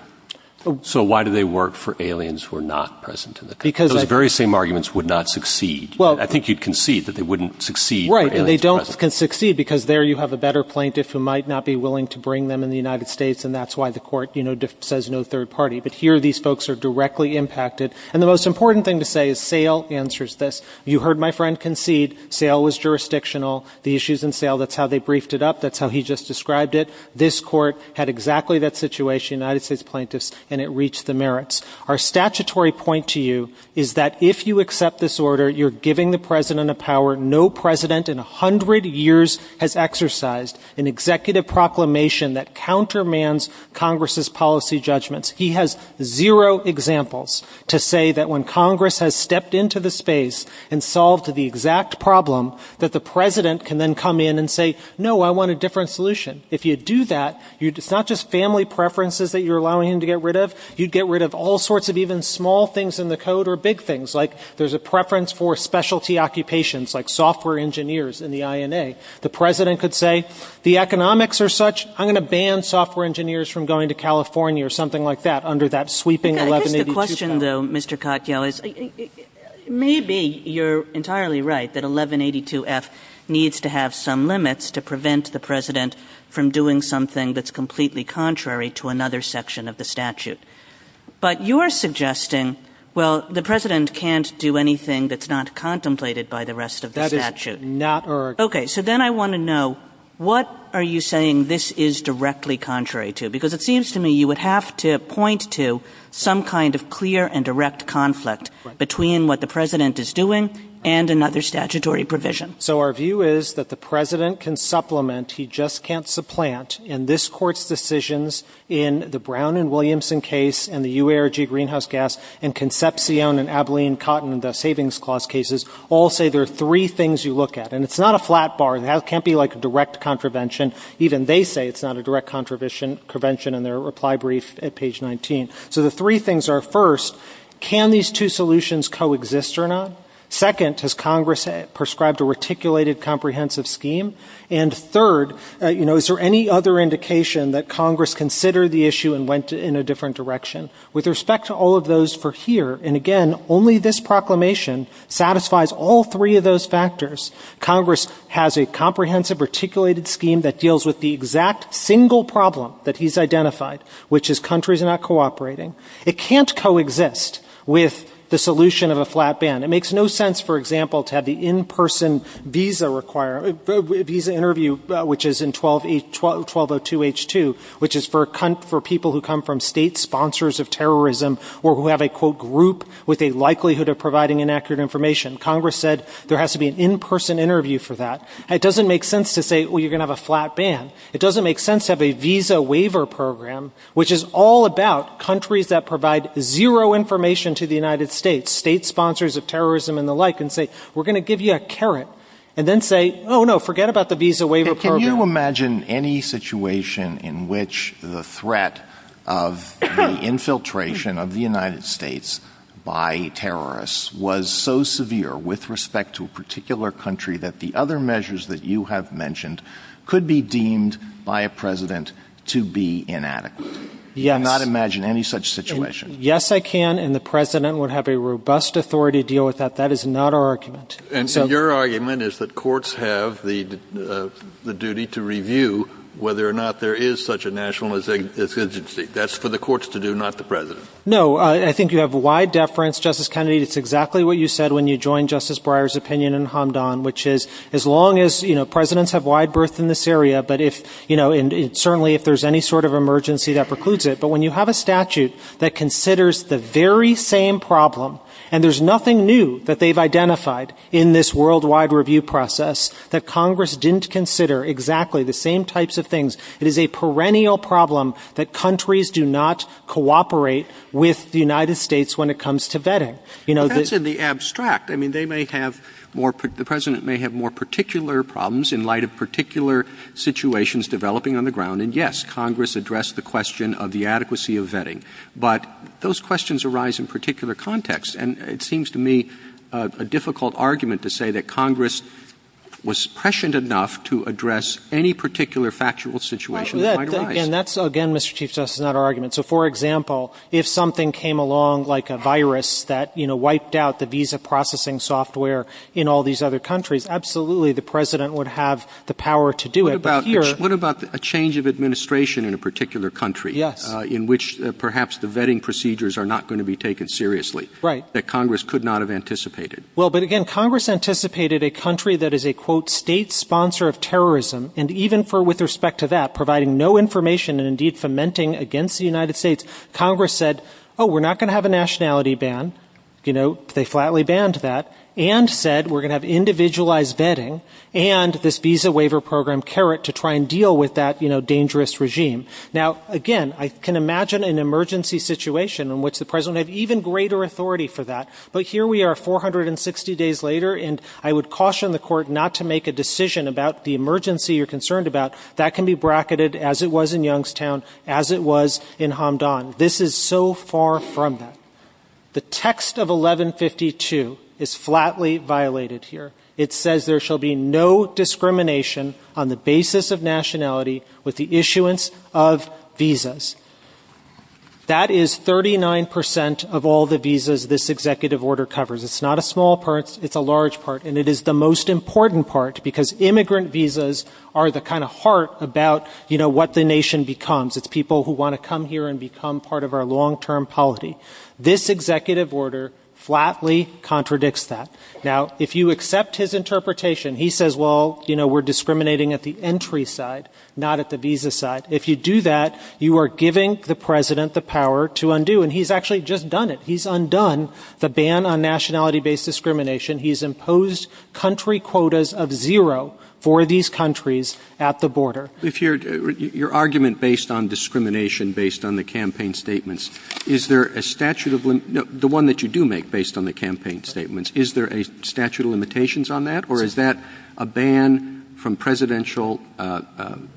So why do they work for aliens who are not present in the country? Because I think — Those very same arguments would not succeed. Well — I think you'd concede that they wouldn't succeed for aliens present. Right, and they don't succeed because there you have a better plaintiff who might not be willing to bring them in the United States, and that's why the court, you know, says no third party. But here, these folks are directly impacted. And the most important thing to say is SAIL answers this. You heard my friend concede SAIL was jurisdictional. The issues in SAIL, that's how they briefed it up. That's how he just described it. This court had exactly that situation, United States plaintiffs, and it reached the merits. Our statutory point to you is that if you accept this order, you're giving the president a power no president in 100 years has exercised, an executive proclamation that countermands Congress's policy judgments. He has zero examples to say that when Congress has stepped into the space and solved the exact problem, that the president can then come in and say, no, I want a different solution. If you do that, it's not just family preferences that you're allowing him to get rid of. You'd get rid of all sorts of even small things in the code or big things, like there's a preference for specialty occupations, like software engineers in the INA. The president could say, the economics are such, I'm going to ban software engineers from going to California, or something like that, under that sweeping 1182 power. Kagan. I guess the question, though, Mr. Katyal, is maybe you're entirely right that 1182F needs to have some limits to prevent the president from doing something that's completely contrary to another section of the statute. But you're suggesting, well, the president can't do anything that's not contemplated by the rest of the statute. That is not our. Okay. So then I want to know, what are you saying this is directly contrary to? Because it seems to me you would have to point to some kind of clear and direct conflict between what the president is doing and another statutory provision. So our view is that the president can supplement. He just can't supplant. And this Court's decisions in the Brown and Williamson case and the UARG greenhouse gas and Concepcion and Abilene Cotton, the savings clause cases, all say there are three things you look at. And it's not a flat bar. It can't be like a direct contravention. Even they say it's not a direct contravention in their reply brief at page 19. So the three things are, first, can these two solutions coexist or not? Second, has Congress prescribed a reticulated comprehensive scheme? And third, you know, is there any other indication that Congress considered the issue and went in a different direction? Satisfies all three of those factors. Congress has a comprehensive reticulated scheme that deals with the exact single problem that he's identified, which is countries are not cooperating. It can't coexist with the solution of a flat ban. It makes no sense, for example, to have the in-person visa interview, which is in 1202H2, which is for people who come from state sponsors of terrorism or who have a, quote, group with a likelihood of providing inaccurate information. Congress said there has to be an in-person interview for that. It doesn't make sense to say, well, you're going to have a flat ban. It doesn't make sense to have a visa waiver program, which is all about countries that provide zero information to the United States, state sponsors of terrorism and the like, and say, we're going to give you a caret, and then say, oh, no, forget about the visa waiver program. Can you imagine any situation in which the threat of the infiltration of the United States by terrorists was so severe with respect to a particular country that the other measures that you have mentioned could be deemed by a president to be inadequate? Yes. I cannot imagine any such situation. Yes, I can, and the president would have a robust authority to deal with that. That is not our argument. And your argument is that courts have the duty to review whether or not there is such a national insurgency. That's for the courts to do, not the president. No. I think you have wide deference, Justice Kennedy. It's exactly what you said when you joined Justice Breyer's opinion in Hamdan, which is as long as presidents have wide berth in this area, but certainly if there's any sort of emergency, that precludes it. But when you have a statute that considers the very same problem, and there's nothing new that they've identified in this worldwide review process that Congress didn't consider exactly the same types of things, it is a perennial problem that countries do not cooperate with the United States when it comes to vetting. That's in the abstract. I mean, they may have more – the president may have more particular problems in light of particular situations developing on the ground. And, yes, Congress addressed the question of the adequacy of vetting. But those questions arise in particular contexts. And it seems to me a difficult argument to say that Congress was prescient enough to address any particular factual situation that might arise. And that's, again, Mr. Chief Justice, not our argument. So, for example, if something came along like a virus that wiped out the visa processing software in all these other countries, absolutely the president would have the power to do it. But here – What about a change of administration in a particular country? Yes. In which perhaps the vetting procedures are not going to be taken seriously. Right. That Congress could not have anticipated. Well, but, again, Congress anticipated a country that is a, quote, state sponsor of terrorism. And even with respect to that, providing no information and, indeed, fomenting against the United States, Congress said, oh, we're not going to have a nationality ban. You know, they flatly banned that. And said we're going to have individualized vetting and this visa waiver program caret to try and deal with that, you know, dangerous regime. Now, again, I can imagine an emergency situation in which the president would have even greater authority for that. But here we are, 460 days later, and I would caution the court not to make a decision about the emergency you're concerned about. That can be bracketed as it was in Youngstown, as it was in Hamdan. This is so far from that. The text of 1152 is flatly violated here. It says there shall be no discrimination on the basis of nationality with the exception of visas. That is 39% of all the visas this executive order covers. It's not a small part. It's a large part. And it is the most important part because immigrant visas are the kind of heart about, you know, what the nation becomes. It's people who want to come here and become part of our long-term polity. This executive order flatly contradicts that. Now, if you accept his interpretation, he says, well, you know, we're discriminating at the entry side, not at the visa side. If you do that, you are giving the President the power to undo. And he's actually just done it. He's undone the ban on nationality-based discrimination. He's imposed country quotas of zero for these countries at the border. Roberts. If your argument based on discrimination, based on the campaign statements, is there a statute of limit no, the one that you do make based on the campaign statements, is there a statute of limitations on that, or is that a ban from presidential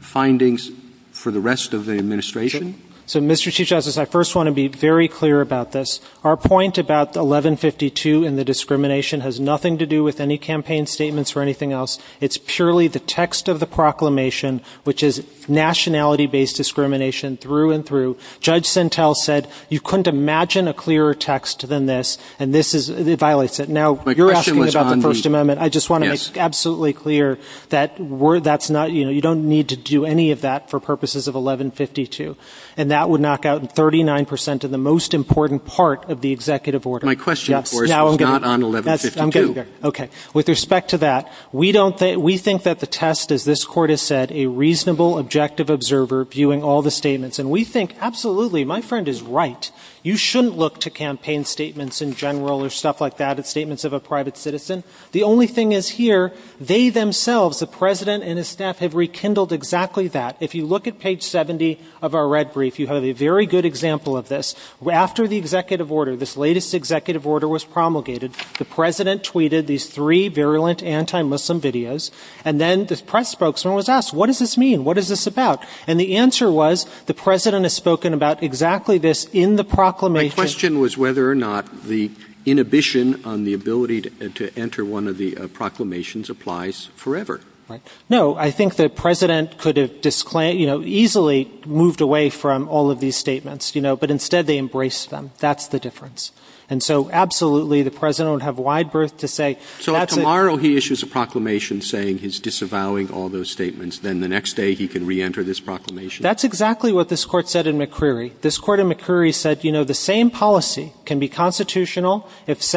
findings for the rest of the administration? So, Mr. Chief Justice, I first want to be very clear about this. Our point about 1152 and the discrimination has nothing to do with any campaign statements or anything else. It's purely the text of the proclamation, which is nationality-based discrimination through and through. Judge Sentel said you couldn't imagine a clearer text than this, and this is – it violates it. Now, you're asking about the First Amendment. I just want to make absolutely clear that we're – that's not – you know, you don't need to do any of that for purposes of 1152. And that would knock out 39 percent of the most important part of the executive order. My question, of course, was not on 1152. Okay. With respect to that, we don't – we think that the test, as this Court has said, a reasonable, objective observer viewing all the statements. And we think, absolutely, my friend is right. You shouldn't look to campaign statements in general or stuff like that, at statements of a private citizen. The only thing is here, they themselves, the President and his staff, have rekindled exactly that. If you look at page 70 of our red brief, you have a very good example of this. After the executive order, this latest executive order was promulgated, the President tweeted these three virulent anti-Muslim videos. And then the press spokesman was asked, what does this mean? What is this about? And the answer was the President has spoken about exactly this in the proclamation. My question was whether or not the inhibition on the ability to enter one of the proclamations applies forever. No. I think the President could have easily moved away from all of these statements. But instead, they embraced them. That's the difference. And so, absolutely, the President would have wide berth to say that's it. So if tomorrow he issues a proclamation saying he's disavowing all those statements, then the next day he can reenter this proclamation? That's exactly what this Court said in McCreary. This Court in McCreary said, you know, the same policy can be constitutional if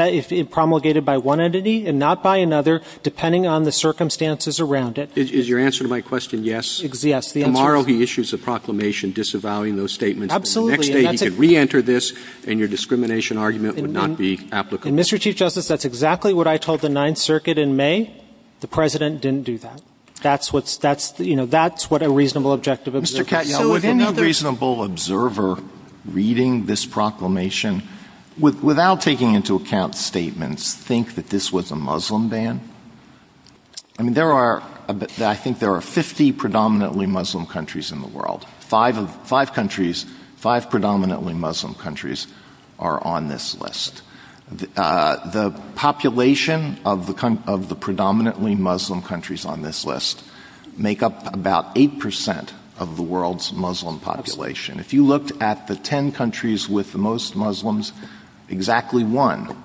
promulgated by one entity and not by another, depending on the circumstances around it. Is your answer to my question yes? Yes. Tomorrow he issues a proclamation disavowing those statements. Absolutely. And the next day he can reenter this, and your discrimination argument would not be applicable. And, Mr. Chief Justice, that's exactly what I told the Ninth Circuit in May. The President didn't do that. That's what's the, you know, that's what a reasonable objective observer says. Mr. Katyal, would any reasonable observer reading this proclamation, without taking into account statements, think that this was a Muslim ban? I mean, there are, I think there are 50 predominantly Muslim countries in the world. Five countries, five predominantly Muslim countries are on this list. The population of the predominantly Muslim countries on this list make up about 8% of the world's Muslim population. If you looked at the 10 countries with the most Muslims, exactly one,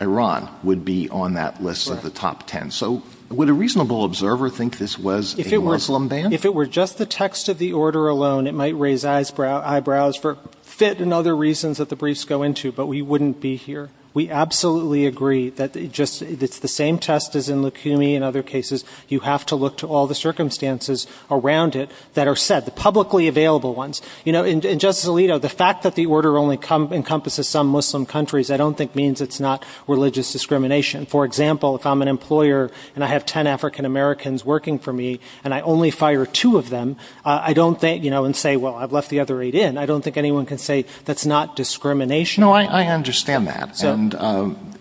Iran, would be on that list of the top 10. So would a reasonable observer think this was a Muslim ban? If it were just the text of the order alone, it might raise eyebrows for fit and other reasons that the briefs go into, but we wouldn't be here. We absolutely agree that it's the same test as in Lukumi and other cases. You have to look to all the circumstances around it that are set, the publicly available ones. You know, and Justice Alito, the fact that the order only encompasses some Muslim countries I don't think means it's not religious discrimination. For example, if I'm an employer and I have 10 African Americans working for me and I only fire two of them, I don't think, you know, and say, well, I've left the other eight in. I don't think anyone can say that's not discrimination. No, I understand that. And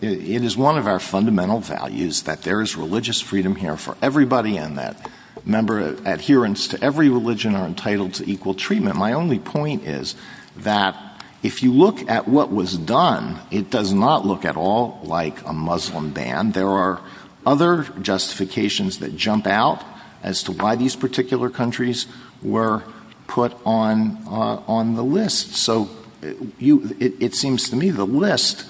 it is one of our fundamental values that there is religious freedom here for everybody and that adherents to every religion are entitled to equal treatment. My only point is that if you look at what was done, it does not look at all like a Muslim ban. There are other justifications that jump out as to why these particular countries were put on the list. So it seems to me the list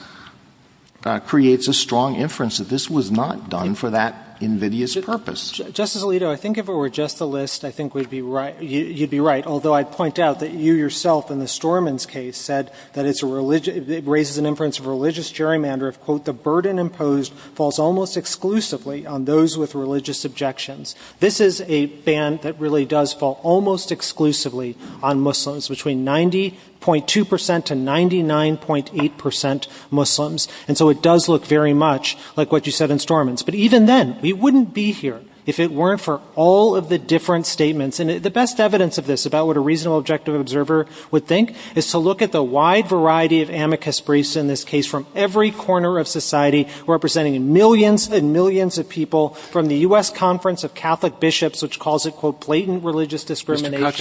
creates a strong inference that this was not done for that invidious purpose. Justice Alito, I think if it were just the list, I think you'd be right, although I'd point out that you yourself in the Storman's case said that it raises an inference of religious gerrymander of, quote, the burden imposed falls almost exclusively on those with religious objections. This is a ban that really does fall almost exclusively on Muslims. Between 90.2% to 99.8% Muslims. And so it does look very much like what you said in Storman's. But even then, we wouldn't be here if it weren't for all of the different statements. And the best evidence of this about what a reasonable objective observer would think is to look at the wide variety of amicus briefs in this case from every corner of society representing millions and millions of people from the U.S. Conference of Catholic Bishops, which calls it, quote, blatant religious discrimination. It's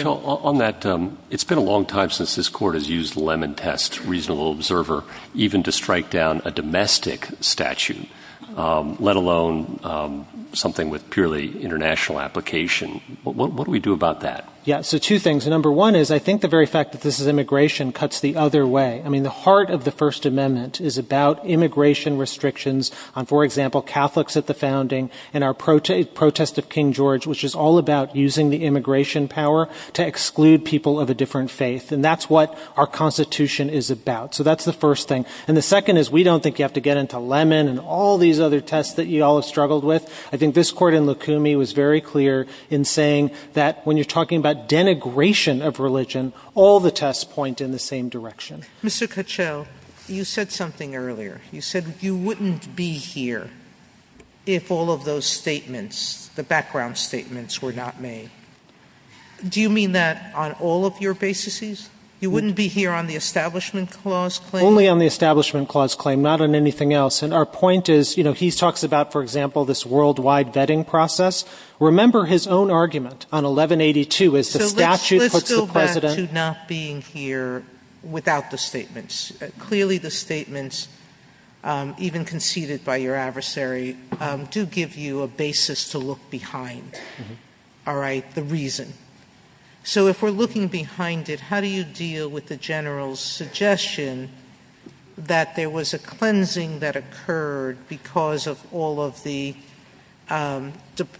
been a long time since this court has used lemon test reasonable observer even to strike down a domestic statute, let alone something with purely international application. What do we do about that? Yeah, so two things. Number one is I think the very fact that this is immigration cuts the other way. I mean, the heart of the First Amendment is about immigration restrictions on, for example, Catholics at the founding and our protest of King George, which is all about using the immigration power to exclude people of a different faith. And that's what our Constitution is about. So that's the first thing. And the second is we don't think you have to get into lemon and all these other tests that you all have struggled with. I think this court in Lukumi was very clear in saying that when you're talking about denigration of religion, all the tests point in the same direction. Mr. Kuchel, you said something earlier. You said you wouldn't be here if all of those statements, the background statements, were not made. Do you mean that on all of your bases? You wouldn't be here on the Establishment Clause claim? Only on the Establishment Clause claim, not on anything else. And our point is, you know, he talks about, for example, this worldwide vetting process. Remember his own argument on 1182 as the statute puts the President. So let's go back to not being here without the statements. Clearly the statements, even conceded by your adversary, do give you a basis to look behind, all right, the reason. So if we're looking behind it, how do you deal with the General's suggestion that there was a cleansing that occurred because of all of the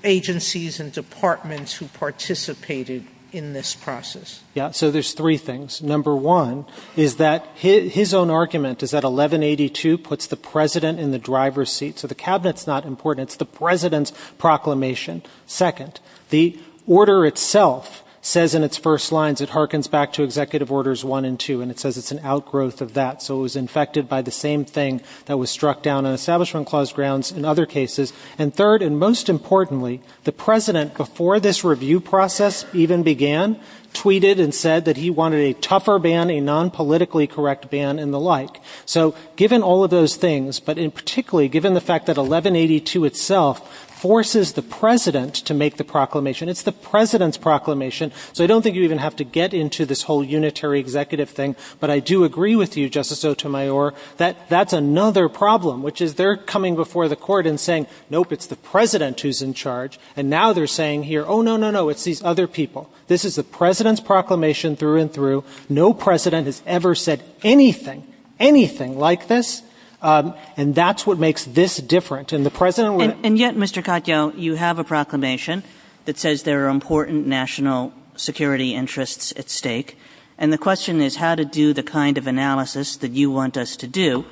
agencies and departments who participated in this process? Yeah, so there's three things. Number one is that his own argument is that 1182 puts the President in the driver's seat. So the Cabinet's not important. It's the President's proclamation. Second, the order itself says in its first lines, it harkens back to Executive Orders 1 and 2, and it says it's an outgrowth of that. So it was infected by the same thing that was struck down on Establishment Clause grounds in other cases. And third, and most importantly, the President, before this review process even began, tweeted and said that he wanted a tougher ban, a non-politically correct ban, and the like. So given all of those things, but particularly given the fact that 1182 itself forces the President to make the proclamation, it's the President's proclamation. So I don't think you even have to get into this whole unitary executive thing. But I do agree with you, Justice Sotomayor, that that's another problem, which is they're coming before the Court and saying, nope, it's the President who's in charge. And now they're saying here, oh, no, no, no, it's these other people. This is the President's proclamation through and through. No President has ever said anything, anything like this. And that's what makes this different. And the President would — And yet, Mr. Katyal, you have a proclamation that says there are important national security interests at stake. And the question is how to do the kind of analysis that you want us to do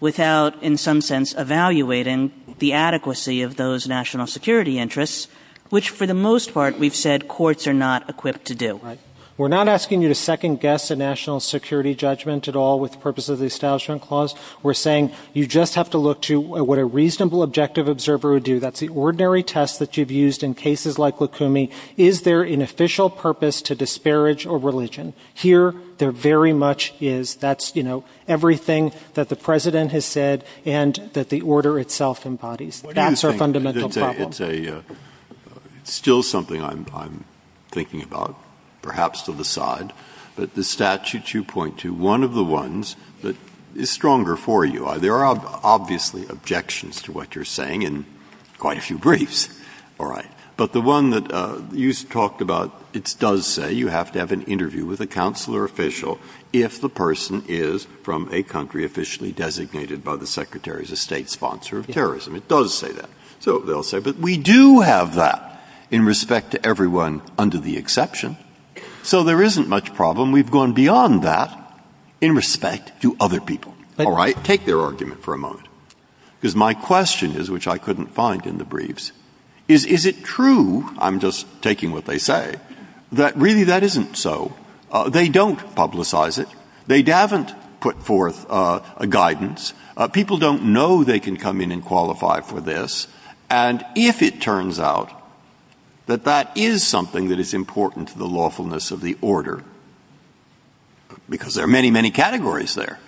without, in some sense, evaluating the adequacy of those national security interests, which, for the most part, we've said courts are not equipped to do. Right. So we're not asking you to second-guess a national security judgment at all with the purpose of the Establishment Clause. We're saying you just have to look to what a reasonable objective observer would do. That's the ordinary test that you've used in cases like Lukumi. Is there an official purpose to disparage a religion? Here, there very much is. That's, you know, everything that the President has said and that the order itself embodies. That's our fundamental problem. It's still something I'm thinking about, perhaps to the side. But the statutes you point to, one of the ones that is stronger for you. There are obviously objections to what you're saying in quite a few briefs. All right. But the one that you talked about, it does say you have to have an interview with a counselor official if the person is from a country officially designated by the Secretary of State sponsor of terrorism. It does say that. So they'll say, but we do have that in respect to everyone under the exception. So there isn't much problem. We've gone beyond that in respect to other people. All right. Take their argument for a moment, because my question is, which I couldn't find in the briefs, is, is it true, I'm just taking what they say, that really that isn't so? They don't publicize it. They haven't put forth a guidance. People don't know they can come in and qualify for this. And if it turns out that that is something that is important to the lawfulness of the order, because there are many, many categories there,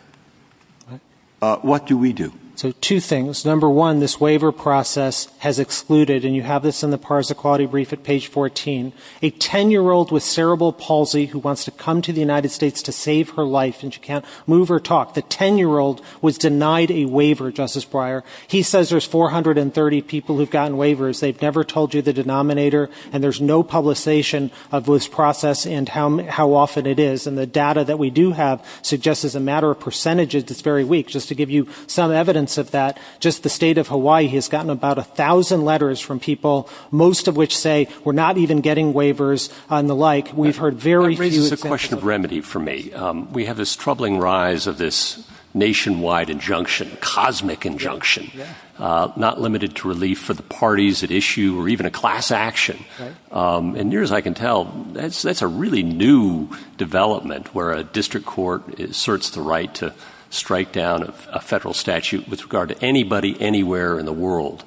what do we do? So two things. Number one, this waiver process has excluded, and you have this in the PARS Equality Brief at page 14, a 10-year-old with cerebral palsy who wants to come to the United States to save her life, and she can't move or talk. The 10-year-old was denied a waiver, Justice Breyer. He says there's 430 people who've gotten waivers. They've never told you the denominator, and there's no publication of this process and how often it is. And the data that we do have suggests, as a matter of percentages, it's very weak. Just to give you some evidence of that, just the state of Hawaii has gotten about 1,000 letters from people, most of which say we're not even getting waivers and the like. We've heard very few examples. That raises a question of remedy for me. We have this troubling rise of this nationwide injunction, cosmic injunction, not limited to relief for the parties at issue or even a class action. And near as I can tell, that's a really new development where a district court asserts the right to strike down a federal statute with regard to anybody, anywhere in the world.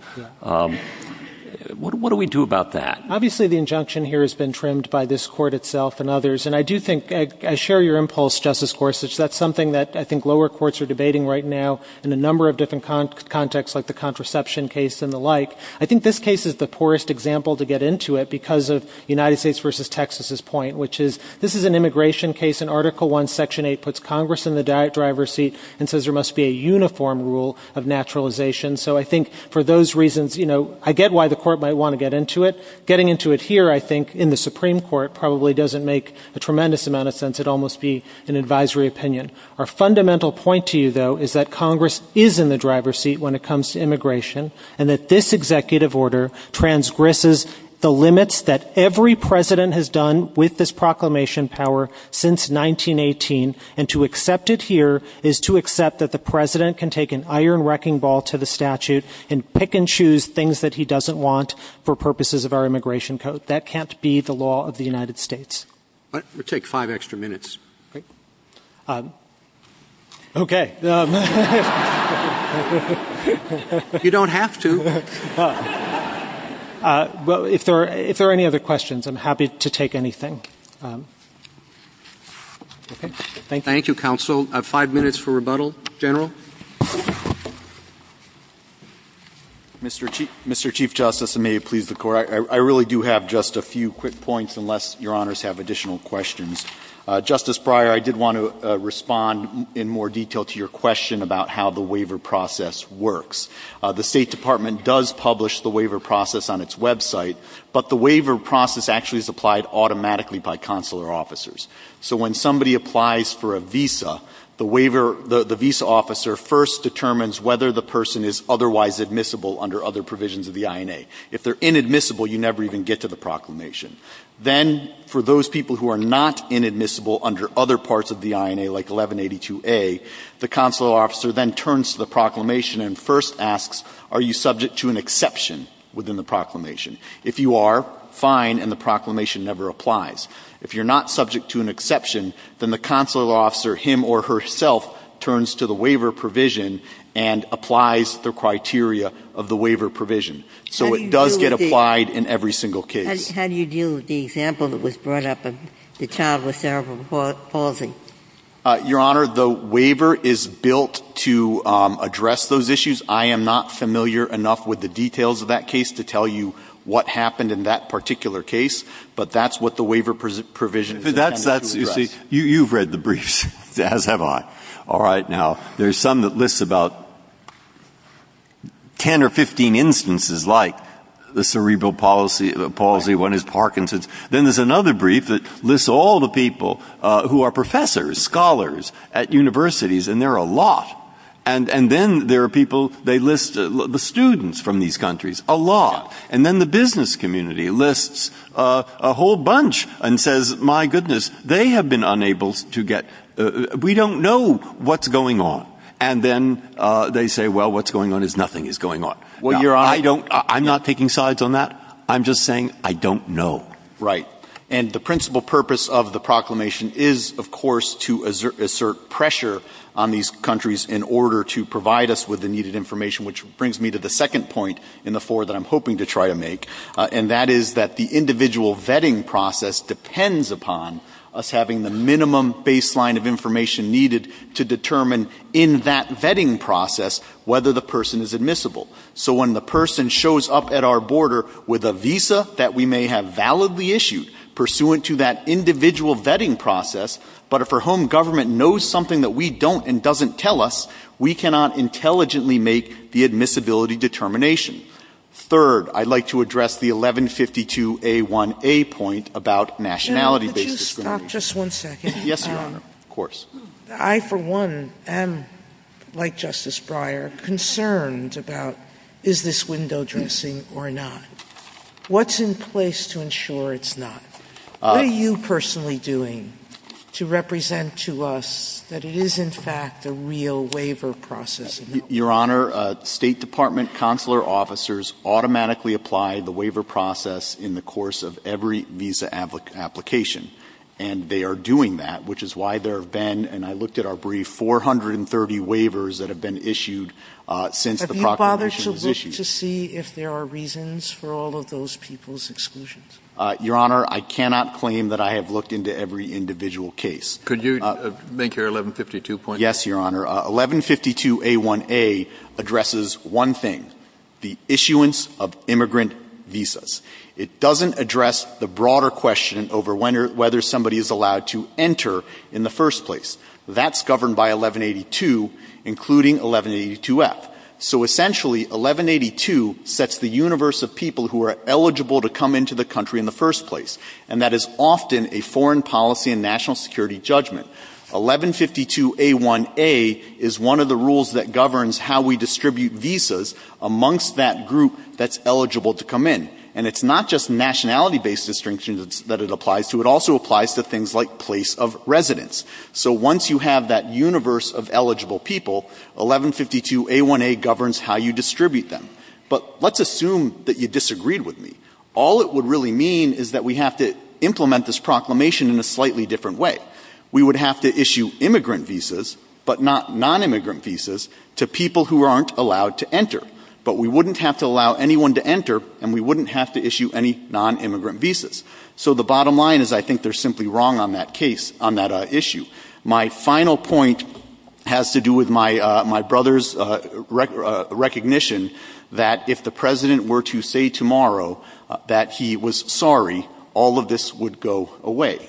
What do we do about that? Obviously, the injunction here has been trimmed by this court itself and others. And I do think, I share your impulse, Justice Gorsuch, that's something that I think lower courts are debating right now in a number of different contexts, like the contraception case and the like. I think this case is the poorest example to get into it because of United States v. Texas's point, which is this is an immigration case, and Article 1, Section 8 puts Congress in the driver's seat and says there must be a uniform rule of naturalization. So I think for those reasons, you know, I get why the court might want to get into it. Getting into it here, I think, in the Supreme Court probably doesn't make a tremendous amount of sense. It'd almost be an advisory opinion. Our fundamental point to you, though, is that Congress is in the driver's seat when it comes to immigration and that this executive order transgresses the limits that every president has done with this proclamation power since 1918. And to accept it here is to accept that the president can take an iron wrecking ball to the statute and pick and choose things that he doesn't want for purposes of our immigration code. But that can't be the law of the United States. We'll take five extra minutes. Okay. You don't have to. If there are any other questions, I'm happy to take anything. Thank you. Thank you, counsel. Five minutes for rebuttal. General. Mr. Chief Justice, and may it please the Court, I really do have just a few quick points, unless Your Honors have additional questions. Justice Breyer, I did want to respond in more detail to your question about how the waiver process works. The State Department does publish the waiver process on its website, but the waiver process actually is applied automatically by consular officers. So when somebody applies for a visa, the waiver — the visa officer first determines whether the person is otherwise admissible under other provisions of the INA. If they're inadmissible, you never even get to the proclamation. Then, for those people who are not inadmissible under other parts of the INA, like 1182a, the consular officer then turns to the proclamation and first asks, are you subject to an exception within the proclamation? If you are, fine, and the proclamation never applies. If you're not subject to an exception, then the consular officer, him or herself, turns to the waiver provision and applies the criteria of the waiver provision. So it does get applied in every single case. How do you deal with the example that was brought up of the child with cerebral palsy? Your Honor, the waiver is built to address those issues. I am not familiar enough with the details of that case to tell you what happened in that particular case, but that's what the waiver provision is intended to address. You see, you've read the briefs, as have I. All right, now, there's some that lists about 10 or 15 instances, like the cerebral palsy, one is Parkinson's. Then there's another brief that lists all the people who are professors, scholars at universities, and there are a lot. And then there are people, they list the students from these countries, a lot. And then the business community lists a whole bunch and says, my goodness, they have been unable to get, we don't know what's going on. And then they say, well, what's going on is nothing is going on. Now, I don't, I'm not taking sides on that. I'm just saying I don't know. Right. And the principal purpose of the proclamation is, of course, to assert pressure on these countries in order to provide us with the needed information, which brings me to the second point in the four that I'm hoping to try to make, and that is that the individual vetting process depends upon us having the minimum baseline of information needed to determine in that vetting process whether the person is admissible. So when the person shows up at our border with a visa that we may have validly issued pursuant to that individual vetting process, but for whom government knows something that we don't and doesn't tell us, we cannot intelligently make the admissibility determination. Third, I'd like to address the 1152A1A point about nationality-based discrimination. Sotomayor, could you stop just one second? Yes, Your Honor. Of course. I, for one, am, like Justice Breyer, concerned about is this window dressing or not? What's in place to ensure it's not? What are you personally doing to represent to us that it is, in fact, a real waiver process? Your Honor, State Department consular officers automatically apply the waiver process in the course of every visa application, and they are doing that, which is why there have been, and I looked at our brief, 430 waivers that have been issued since the proclamation was issued. Have you bothered to look to see if there are reasons for all of those people's exclusions? Your Honor, I cannot claim that I have looked into every individual case. Could you make your 1152 point? Yes, Your Honor. 1152A1A addresses one thing, the issuance of immigrant visas. It doesn't address the broader question over whether somebody is allowed to enter in the first place. That's governed by 1182, including 1182F. So, essentially, 1182 sets the universe of people who are eligible to come into the country in the first place, and that is often a foreign policy and national security judgment. 1152A1A is one of the rules that governs how we distribute visas amongst that group that's eligible to come in. And it's not just nationality-based distinctions that it applies to. It also applies to things like place of residence. So once you have that universe of eligible people, 1152A1A governs how you distribute them. But let's assume that you disagreed with me. All it would really mean is that we have to implement this proclamation in a slightly different way. We would have to issue immigrant visas, but not nonimmigrant visas, to people who aren't allowed to enter. But we wouldn't have to allow anyone to enter, and we wouldn't have to issue any nonimmigrant visas. So the bottom line is I think they're simply wrong on that case, on that issue. My final point has to do with my brother's recognition that if the president were to say tomorrow that he was sorry, all of this would go away.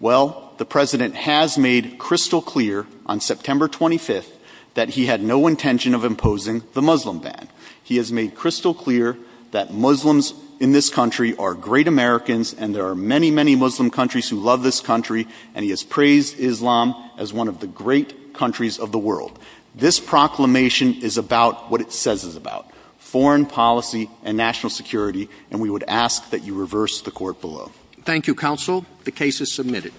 Well, the president has made crystal clear on September 25th that he had no intention of imposing the Muslim ban. He has made crystal clear that Muslims in this country are great Americans, and there are many, many Muslim countries who love this country, and he has praised Islam as one of the great countries of the world. This proclamation is about what it says it's about, foreign policy and national security, and we would ask that you reverse the Court below. Thank you, Counsel. The case is submitted.